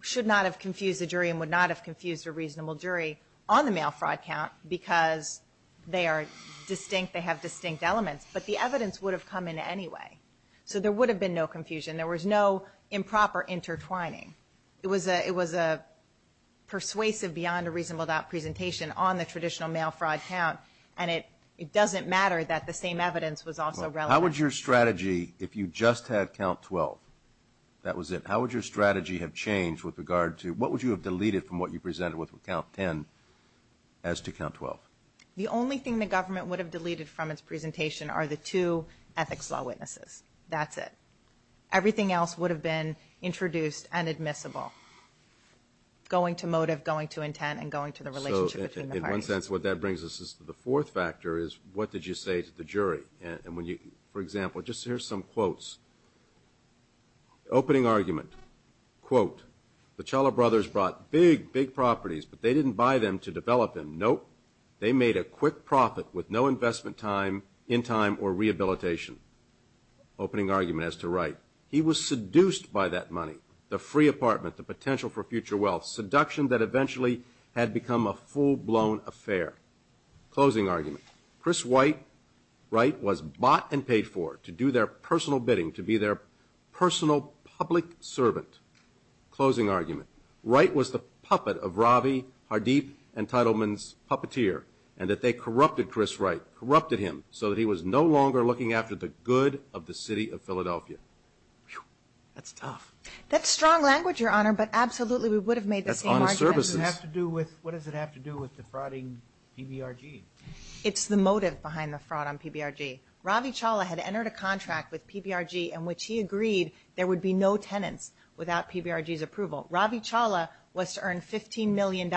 should not have confused the jury and would not have confused a reasonable jury on the mail fraud count because they are distinct, they have distinct elements. But the evidence would have come in anyway, so there would have been no confusion. There was no improper intertwining. It was persuasive beyond a reasonable doubt presentation on the traditional mail fraud count and it doesn't matter that the same evidence was also relevant. How would your strategy, if you just had Count 12, that was it, how would your strategy have changed with regard to, what would you have deleted from what you presented with Count 10 as to Count 12? The only thing the government would have deleted from its presentation are the two ethics law witnesses. That's it. Everything else would have been introduced and admissible. Going to motive, going to intent, and going to the relationship between the parties. In one sense, what that brings us to the fourth factor is what did you say to the jury? For example, just here's some quotes. Opening argument, quote, the Challa brothers brought big, big properties, but they didn't buy them to develop them. Nope. They made a quick profit with no investment in time or rehabilitation. Opening argument as to Wright. He was seduced by that money, the free apartment, the potential for future wealth, seduction that eventually had become a full-blown affair. Closing argument. Chris Wright was bought and paid for to do their personal bidding, to be their personal public servant. Closing argument. Wright was the puppet of Ravi Hardeep and Teitelman's puppeteer and that they corrupted Chris Wright, corrupted him, so that he was no longer looking after the good of the city of Philadelphia. That's tough. That's strong language, Your Honor, but absolutely we would have made the same argument. That's honest services. What does it have to do with defrauding PBRG? It's the motive behind the fraud on PBRG. Ravi Challa had entered a contract with PBRG in which he agreed there would be no tenants without PBRG's approval. Ravi Challa was to earn $15 million,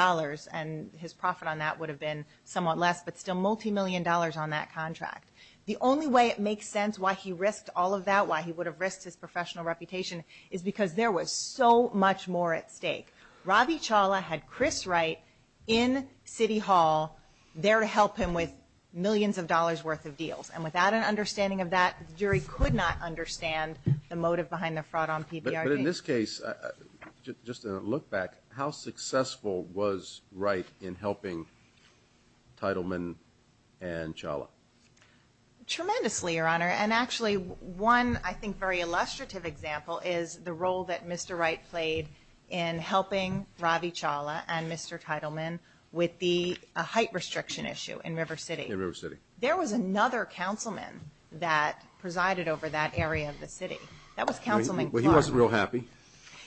and his profit on that would have been somewhat less, but still multi-million dollars on that contract. The only way it makes sense why he risked all of that, why he would have risked his professional reputation, is because there was so much more at stake. Ravi Challa had Chris Wright in City Hall there to help him with millions of dollars worth of deals, and without an understanding of that, the jury could not understand the motive behind the fraud on PBRG. But in this case, just to look back, how successful was Wright in helping Tittleman and Challa? Tremendously, Your Honor, and actually one, I think, very illustrative example is the role that Mr. Wright played in helping Ravi Challa and Mr. Tittleman with the height restriction issue in River City. In River City. There was another councilman that presided over that area of the city. That was Councilman Clark. Well, he wasn't real happy.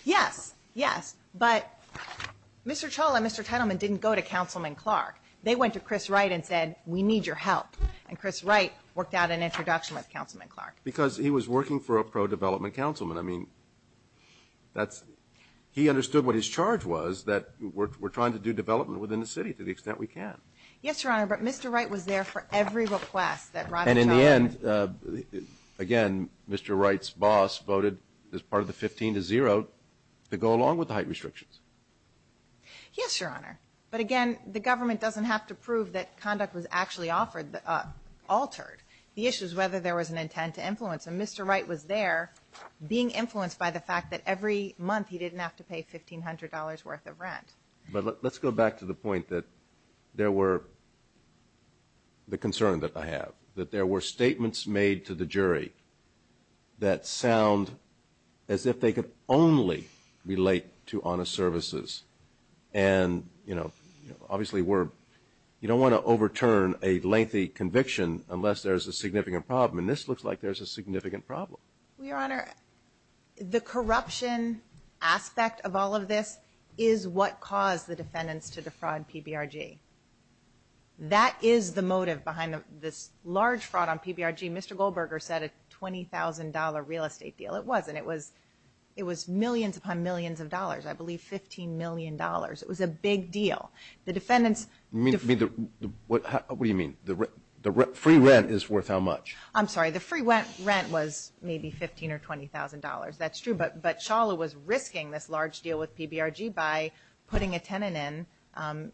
Yes, yes, but Mr. Challa and Mr. Tittleman didn't go to Councilman Clark. They went to Chris Wright and said, we need your help, and Chris Wright worked out an introduction with Councilman Clark. Because he was working for a pro-development councilman. I mean, he understood what his charge was, that we're trying to do development within the city to the extent we can. Yes, Your Honor, but Mr. Wright was there for every request that Ravi Challa made. Again, Mr. Wright's boss voted as part of the 15-0 to go along with the height restrictions. Yes, Your Honor, but again, the government doesn't have to prove that conduct was actually altered. The issue is whether there was an intent to influence, and Mr. Wright was there being influenced by the fact that every month he didn't have to pay $1,500 worth of rent. But let's go back to the point that there were, the concern that I have, that there were statements made to the jury that sound as if they could only relate to honest services. And, you know, obviously we're, you don't want to overturn a lengthy conviction unless there's a significant problem. And this looks like there's a significant problem. Well, Your Honor, the corruption aspect of all of this is what caused the defendants to defraud PBRG. That is the motive behind this large fraud on PBRG. Mr. Goldberger said a $20,000 real estate deal. It wasn't. It was millions upon millions of dollars, I believe $15 million. It was a big deal. The defendants- What do you mean? The free rent is worth how much? I'm sorry. The free rent was maybe $15,000 or $20,000. That's true. But Shawla was risking this large deal with PBRG by putting a tenant in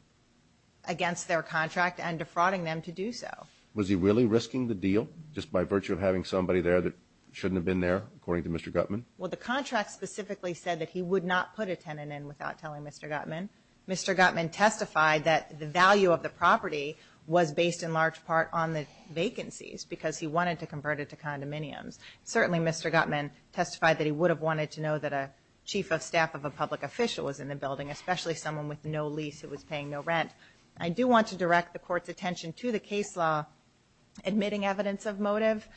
against their contract and defrauding them to do so. Was he really risking the deal just by virtue of having somebody there that shouldn't have been there, according to Mr. Gutman? Well, the contract specifically said that he would not put a tenant in without telling Mr. Gutman. Mr. Gutman testified that the value of the property was based in large part on the vacancies because he wanted to convert it to condominiums. Certainly, Mr. Gutman testified that he would have wanted to know that a chief of staff of a public official was in the building, especially someone with no lease who was paying no rent. I do want to direct the Court's attention to the case law admitting evidence of motive.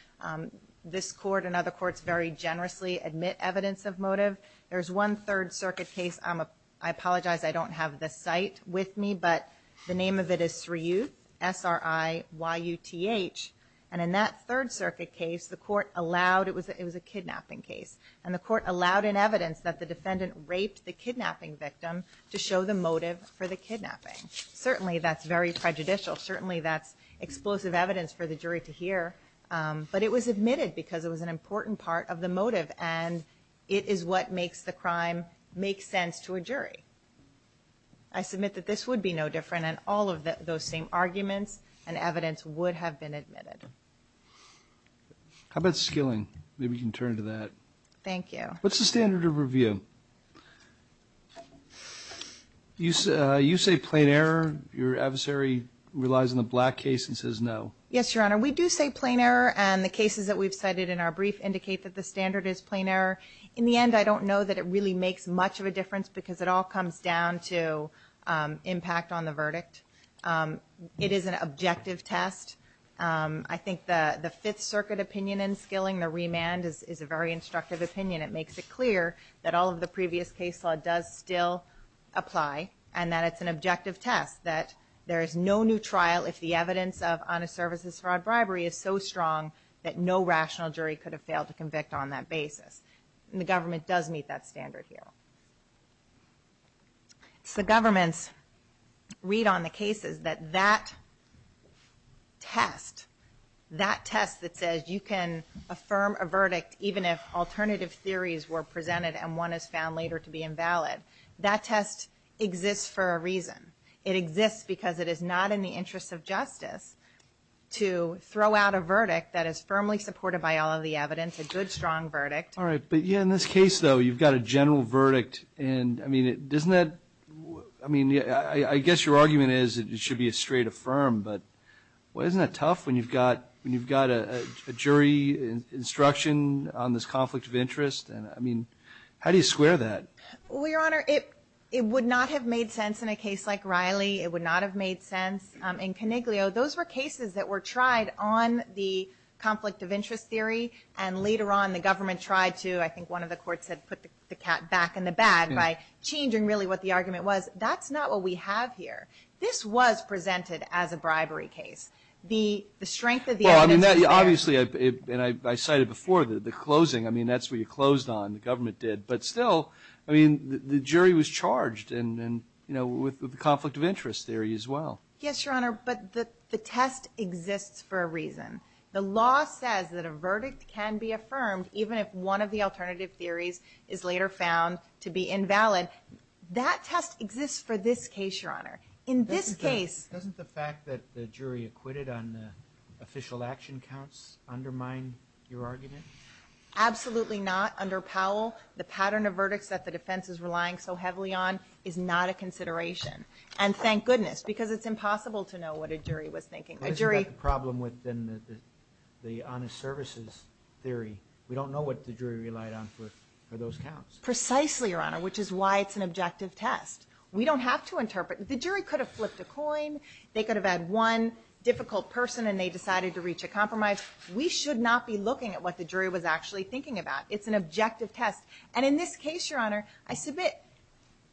This Court and other courts very generously admit evidence of motive. There's one Third Circuit case. I apologize. I don't have the site with me, but the name of it is Sriyuth, S-R-I-Y-U-T-H. And in that Third Circuit case, the Court allowed, it was a kidnapping case, and the Court allowed in evidence that the defendant raped the kidnapping victim to show the motive for the kidnapping. Certainly, that's very prejudicial. Certainly, that's explosive evidence for the jury to hear. But it was admitted because it was an important part of the motive, and it is what makes the crime make sense to a jury. I submit that this would be no different, and all of those same arguments and evidence would have been admitted. How about skilling? Maybe we can turn to that. Thank you. What's the standard of review? You say plain error. Your adversary relies on the Black case and says no. Yes, Your Honor. We do say plain error, and the cases that we've cited in our brief indicate that the standard is plain error. In the end, I don't know that it really makes much of a difference because it all comes down to impact on the verdict. It is an objective test. I think the Fifth Circuit opinion in skilling, the remand, is a very instructive opinion. It makes it clear that all of the previous case law does still apply, and that it's an objective test, that there is no new trial if the evidence of honest services fraud bribery is so strong that no rational jury could have failed to convict on that basis. The government does meet that standard here. The governments read on the cases that that test, that test that says you can affirm a verdict even if alternative theories were presented and one is found later to be invalid, that test exists for a reason. It exists because it is not in the interest of justice to throw out a verdict that is firmly supported by all of the evidence, a good, strong verdict. All right. But, yeah, in this case, though, you've got a general verdict. And, I mean, doesn't that – I mean, I guess your argument is it should be a straight affirm, but isn't that tough when you've got a jury instruction on this conflict of interest? And, I mean, how do you square that? Well, Your Honor, it would not have made sense in a case like Riley. It would not have made sense in Coniglio. Those were cases that were tried on the conflict of interest theory, and later on the government tried to, I think one of the courts had put the cat back in the bag by changing really what the argument was. That's not what we have here. This was presented as a bribery case. The strength of the evidence is there. Well, I mean, obviously, and I cited before the closing. I mean, that's what you closed on, the government did. But still, I mean, the jury was charged with the conflict of interest theory as well. Yes, Your Honor, but the test exists for a reason. The law says that a verdict can be affirmed even if one of the alternative theories is later found to be invalid. That test exists for this case, Your Honor. In this case – Doesn't the fact that the jury acquitted on the official action counts undermine your argument? Absolutely not. Under Powell, the pattern of verdicts that the defense is relying so heavily on is not a consideration. And thank goodness, because it's impossible to know what a jury was thinking. A jury – Isn't that the problem within the honest services theory? We don't know what the jury relied on for those counts. Precisely, Your Honor, which is why it's an objective test. We don't have to interpret – the jury could have flipped a coin. They could have had one difficult person and they decided to reach a compromise. We should not be looking at what the jury was actually thinking about. It's an objective test. And in this case, Your Honor, I submit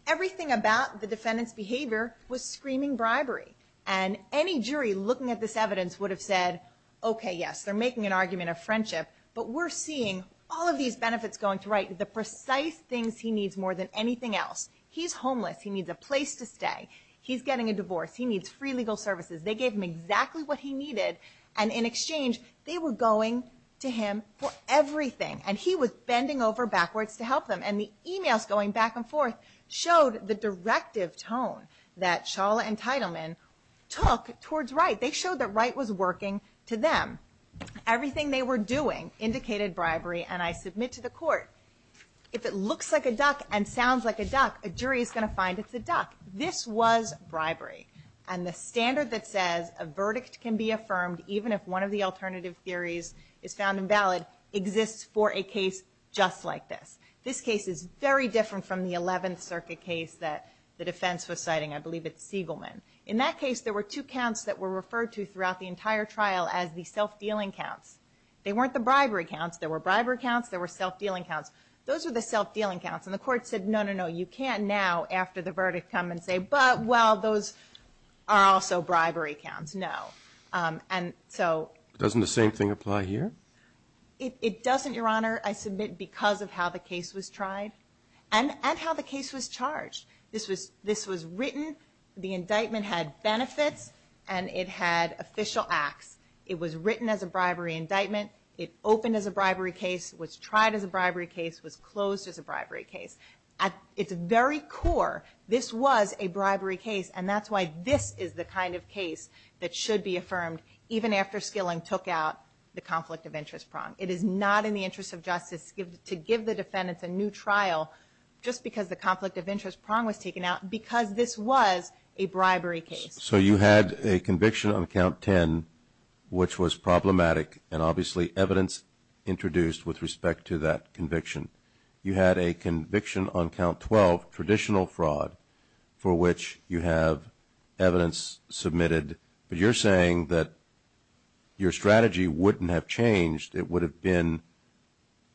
everything about the defendant's behavior was screaming bribery. And any jury looking at this evidence would have said, okay, yes, they're making an argument of friendship. But we're seeing all of these benefits going to right. The precise things he needs more than anything else. He's homeless. He needs a place to stay. He's getting a divorce. He needs free legal services. They gave him exactly what he needed. And in exchange, they were going to him for everything. And he was bending over backwards to help them. And the emails going back and forth showed the directive tone that Shawla and Teitelman took towards right. They showed that right was working to them. Everything they were doing indicated bribery. And I submit to the court, if it looks like a duck and sounds like a duck, a jury is going to find it's a duck. This was bribery. And the standard that says a verdict can be affirmed even if one of the alternative theories is found invalid exists for a case just like this. This case is very different from the 11th Circuit case that the defense was citing. I believe it's Siegelman. In that case, there were two counts that were referred to throughout the entire trial as the self-dealing counts. They weren't the bribery counts. There were bribery counts. There were self-dealing counts. Those were the self-dealing counts. And the court said, no, no, no, you can't now after the verdict come and say, but, well, those are also bribery counts. No. And so. Doesn't the same thing apply here? It doesn't, Your Honor, I submit, because of how the case was tried and how the case was charged. This was written. The indictment had benefits and it had official acts. It was written as a bribery indictment. It opened as a bribery case. It was tried as a bribery case. It was closed as a bribery case. At its very core, this was a bribery case, and that's why this is the kind of case that should be affirmed, even after Skilling took out the conflict of interest prong. It is not in the interest of justice to give the defendants a new trial just because the conflict of interest prong was taken out, because this was a bribery case. So you had a conviction on Count 10, which was problematic, and obviously evidence introduced with respect to that conviction. You had a conviction on Count 12, traditional fraud, for which you have evidence submitted, but you're saying that your strategy wouldn't have changed. It would have been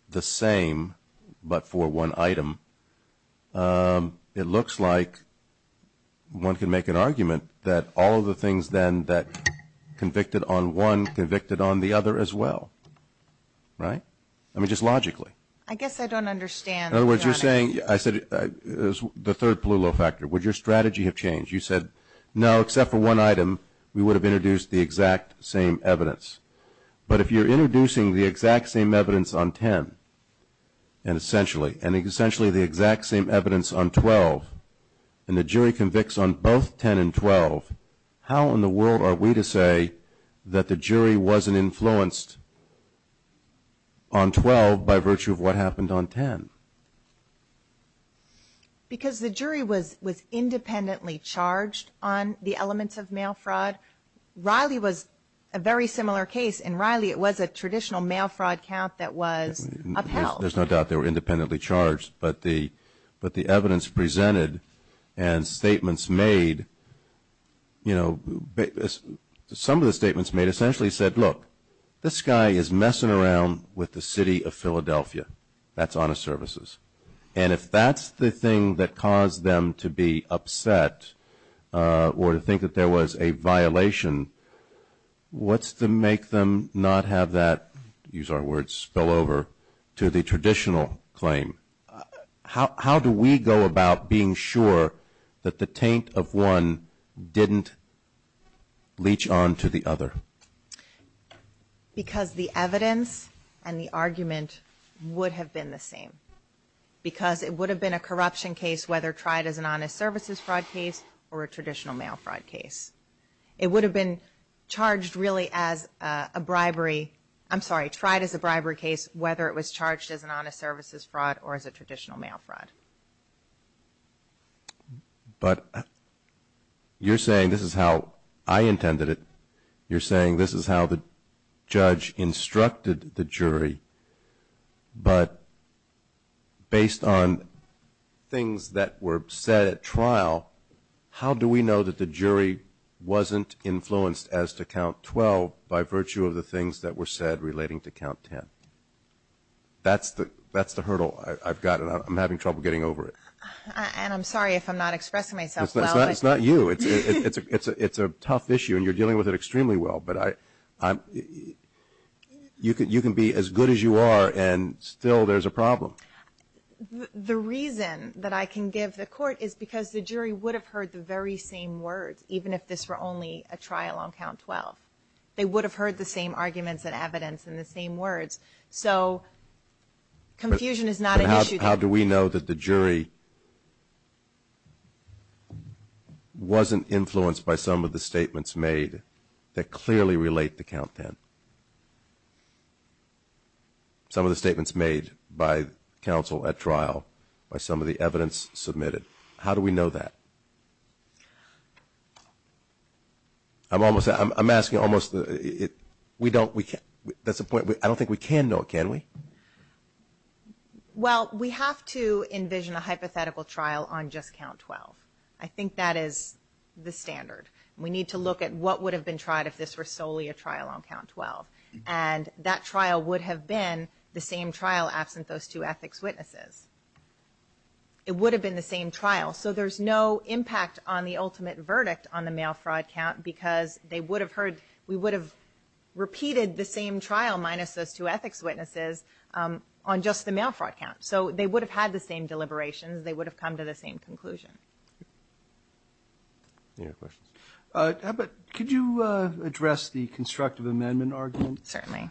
the same but for one item. It looks like one can make an argument that all of the things, then, that convicted on one convicted on the other as well, right? I mean, just logically. I guess I don't understand. In other words, you're saying, I said, the third blue low factor, would your strategy have changed? You said, no, except for one item, we would have introduced the exact same evidence. But if you're introducing the exact same evidence on 10, and essentially, the exact same evidence on 12, and the jury convicts on both 10 and 12, how in the world are we to say that the jury wasn't influenced on 12 by virtue of what happened on 10? Because the jury was independently charged on the elements of mail fraud. Riley was a very similar case, and Riley, it was a traditional mail fraud count that was upheld. There's no doubt they were independently charged. But the evidence presented and statements made, you know, some of the statements made essentially said, look, this guy is messing around with the city of Philadelphia. That's honest services. And if that's the thing that caused them to be upset or to think that there was a violation, what's to make them not have that, use our words, spill over to the traditional claim? How do we go about being sure that the taint of one didn't leach on to the other? Because the evidence and the argument would have been the same. Because it would have been a corruption case, whether tried as an honest services fraud case or a traditional mail fraud case. It would have been charged really as a bribery. I'm sorry, tried as a bribery case, whether it was charged as an honest services fraud or as a traditional mail fraud. But you're saying this is how I intended it. You're saying this is how the judge instructed the jury. But based on things that were said at trial, how do we know that the jury wasn't influenced as to count 12 by virtue of the things that were said relating to count 10? That's the hurdle I've got, and I'm having trouble getting over it. And I'm sorry if I'm not expressing myself well. It's not you. It's a tough issue, and you're dealing with it extremely well. But you can be as good as you are, and still there's a problem. The reason that I can give the court is because the jury would have heard the very same words, even if this were only a trial on count 12. They would have heard the same arguments and evidence and the same words. So confusion is not an issue. How do we know that the jury wasn't influenced by some of the statements made that clearly relate to count 10, some of the statements made by counsel at trial, by some of the evidence submitted? How do we know that? I'm asking almost the we don't. That's the point. I don't think we can know it, can we? Well, we have to envision a hypothetical trial on just count 12. I think that is the standard. We need to look at what would have been tried if this were solely a trial on count 12. And that trial would have been the same trial absent those two ethics witnesses. It would have been the same trial. So there's no impact on the ultimate verdict on the mail fraud count because we would have repeated the same trial minus those two ethics witnesses on just the mail fraud count. So they would have had the same deliberations. They would have come to the same conclusion. Any other questions? Could you address the constructive amendment argument? Certainly.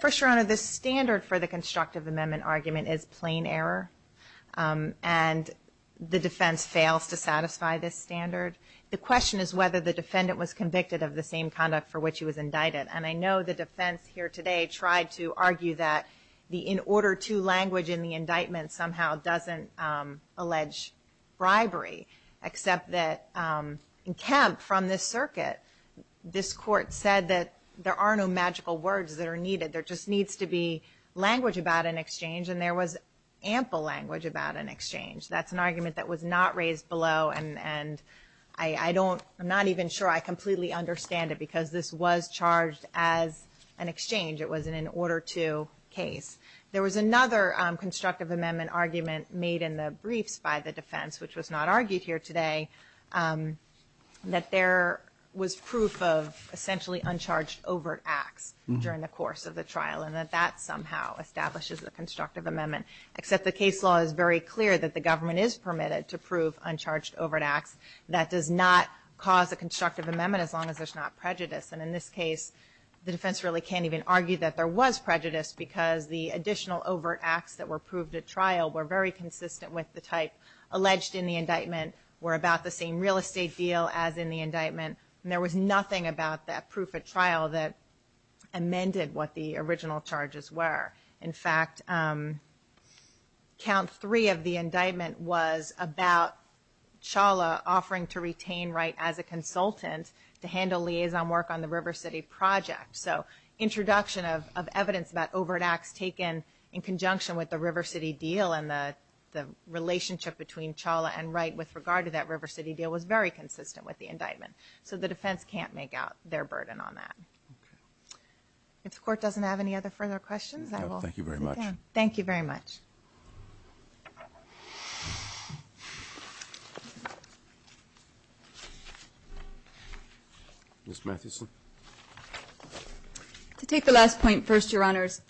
First, Your Honor, the standard for the constructive amendment argument is plain error. And the defense fails to satisfy this standard. The question is whether the defendant was convicted of the same conduct for which he was indicted. And I know the defense here today tried to argue that the in order to language in the indictment somehow doesn't allege bribery, except that in Kemp from this circuit, this court said that there are no magical words that are needed. There just needs to be language about an exchange. And there was ample language about an exchange. That's an argument that was not raised below. And I don't, I'm not even sure I completely understand it because this was charged as an exchange. It was an in order to case. There was another constructive amendment argument made in the briefs by the defense, which was not argued here today, that there was proof of essentially uncharged overt acts during the course of the trial, and that that somehow establishes a constructive amendment, except the case law is very clear that the government is permitted to prove uncharged overt acts. That does not cause a constructive amendment as long as there's not prejudice. And in this case, the defense really can't even argue that there was prejudice because the additional overt acts that were proved at trial were very consistent with the type alleged in the indictment, were about the same real estate deal as in the indictment. And there was nothing about that proof at trial that amended what the original charges were. In fact, count three of the indictment was about Chawla offering to retain Wright as a consultant to handle liaison work on the River City project. So introduction of evidence about overt acts taken in conjunction with the River City deal and the relationship between Chawla and Wright with regard to that River City deal was very consistent with the indictment. So the defense can't make out their burden on that. Okay. If the court doesn't have any other further questions, I will sit down. Thank you very much. Thank you very much. Ms. Mathewson. To take the last point first, Your Honors,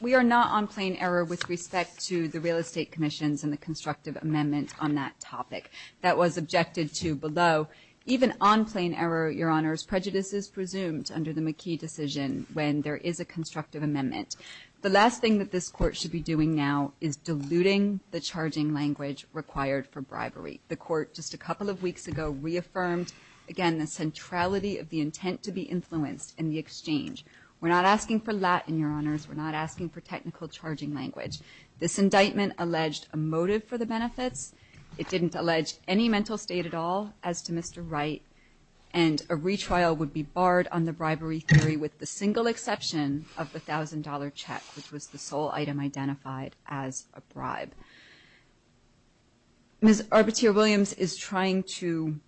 we are not on plain error with respect to the real estate commissions and the constructive amendments on that topic. That was objected to below. Even on plain error, Your Honors, prejudice is presumed under the McKee decision when there is a constructive amendment. The last thing that this court should be doing now is diluting the charging language required for bribery. The court just a couple of weeks ago reaffirmed, again, the centrality of the intent to be influenced in the exchange. We're not asking for Latin, Your Honors. We're not asking for technical charging language. This indictment alleged a motive for the benefits. It didn't allege any mental state at all as to Mr. Wright, and a retrial would be barred on the bribery theory with the single exception of the $1,000 check, which was the sole item identified as a bribe. Ms. Arbuteer-Williams is trying to,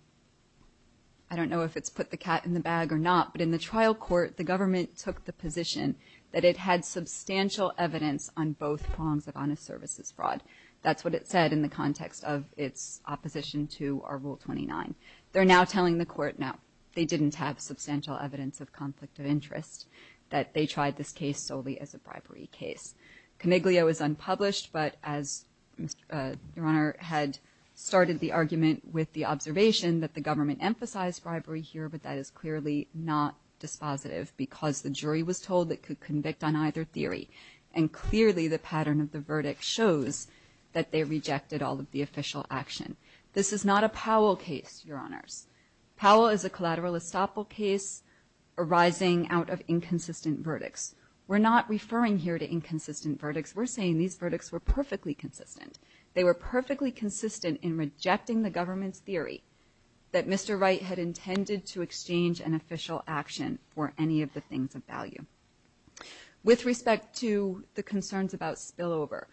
I don't know if it's put the cat in the bag or not, but in the trial court, the government took the position that it had substantial evidence on both prongs of honest services fraud. That's what it said in the context of its opposition to our Rule 29. They're now telling the court, no, they didn't have substantial evidence of conflict of interest, that they tried this case solely as a bribery case. Coniglio is unpublished, but as Your Honor had started the argument with the observation that the government emphasized bribery here, but that is clearly not dispositive because the jury was told it could convict on either theory. And clearly the pattern of the verdict shows that they rejected all of the official action. This is not a Powell case, Your Honors. Powell is a collateral estoppel case arising out of inconsistent verdicts. We're not referring here to inconsistent verdicts. We're saying these verdicts were perfectly consistent. They were perfectly consistent in rejecting the government's theory that Mr. Wright had intended to exchange an official action for any of the things of value. With respect to the concerns about spillover,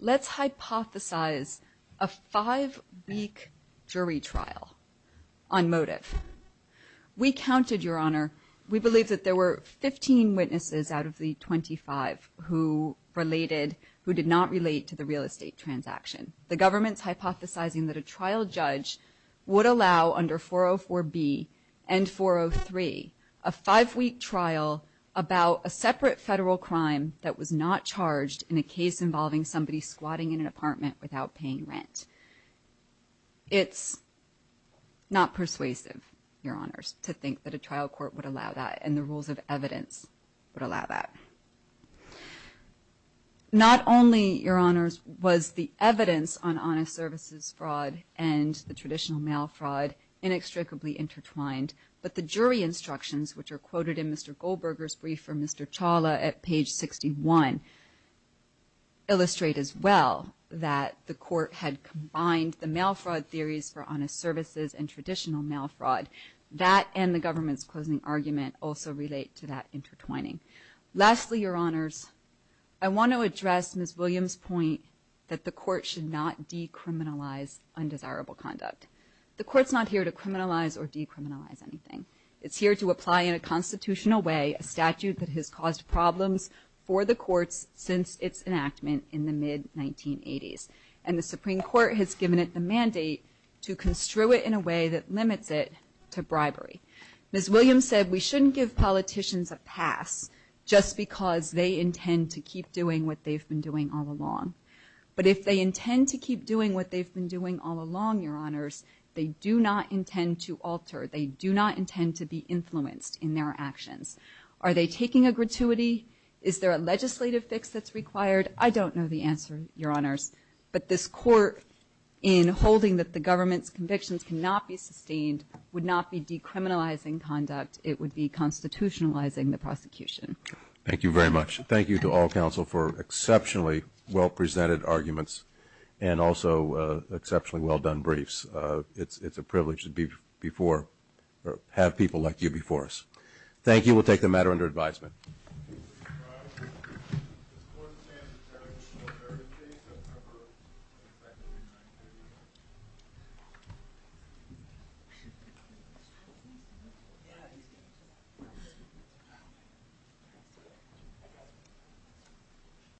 let's hypothesize a five-week jury trial on motive. We counted, Your Honor, we believe that there were 15 witnesses out of the 25 who related, who did not relate to the real estate transaction. The government's hypothesizing that a trial judge would allow under 404B and 403 a five-week trial about a separate federal crime that was not charged in a case involving somebody squatting in an apartment without paying rent. It's not persuasive, Your Honors, to think that a trial court would allow that and the rules of evidence would allow that. Not only, Your Honors, was the evidence on honest services fraud and the traditional mail fraud inextricably intertwined, but the jury instructions, which are quoted in Mr. Goldberger's brief from Mr. Chawla at page 61, illustrate as well that the court had combined the mail fraud theories for honest services and traditional mail fraud. That and the government's closing argument also relate to that intertwining. Lastly, Your Honors, I want to address Ms. Williams' point that the court should not decriminalize undesirable conduct. The court's not here to criminalize or decriminalize anything. It's here to apply in a constitutional way a statute that has caused problems for the courts since its enactment in the mid-1980s, and the Supreme Court has given it the mandate to construe it in a way that limits it to bribery. Ms. Williams said we shouldn't give politicians a pass just because they intend to keep doing what they've been doing all along. But if they intend to keep doing what they've been doing all along, Your Honors, they do not intend to alter. They do not intend to be influenced in their actions. Are they taking a gratuity? Is there a legislative fix that's required? I don't know the answer, Your Honors, but this court, in holding that the government's convictions cannot be sustained, would not be decriminalizing conduct. It would be constitutionalizing the prosecution. Thank you very much. Thank you to all counsel for exceptionally well-presented arguments and also exceptionally well-done briefs. It's a privilege to have people like you before us. Thank you. We'll take the matter under advisement. Thank you.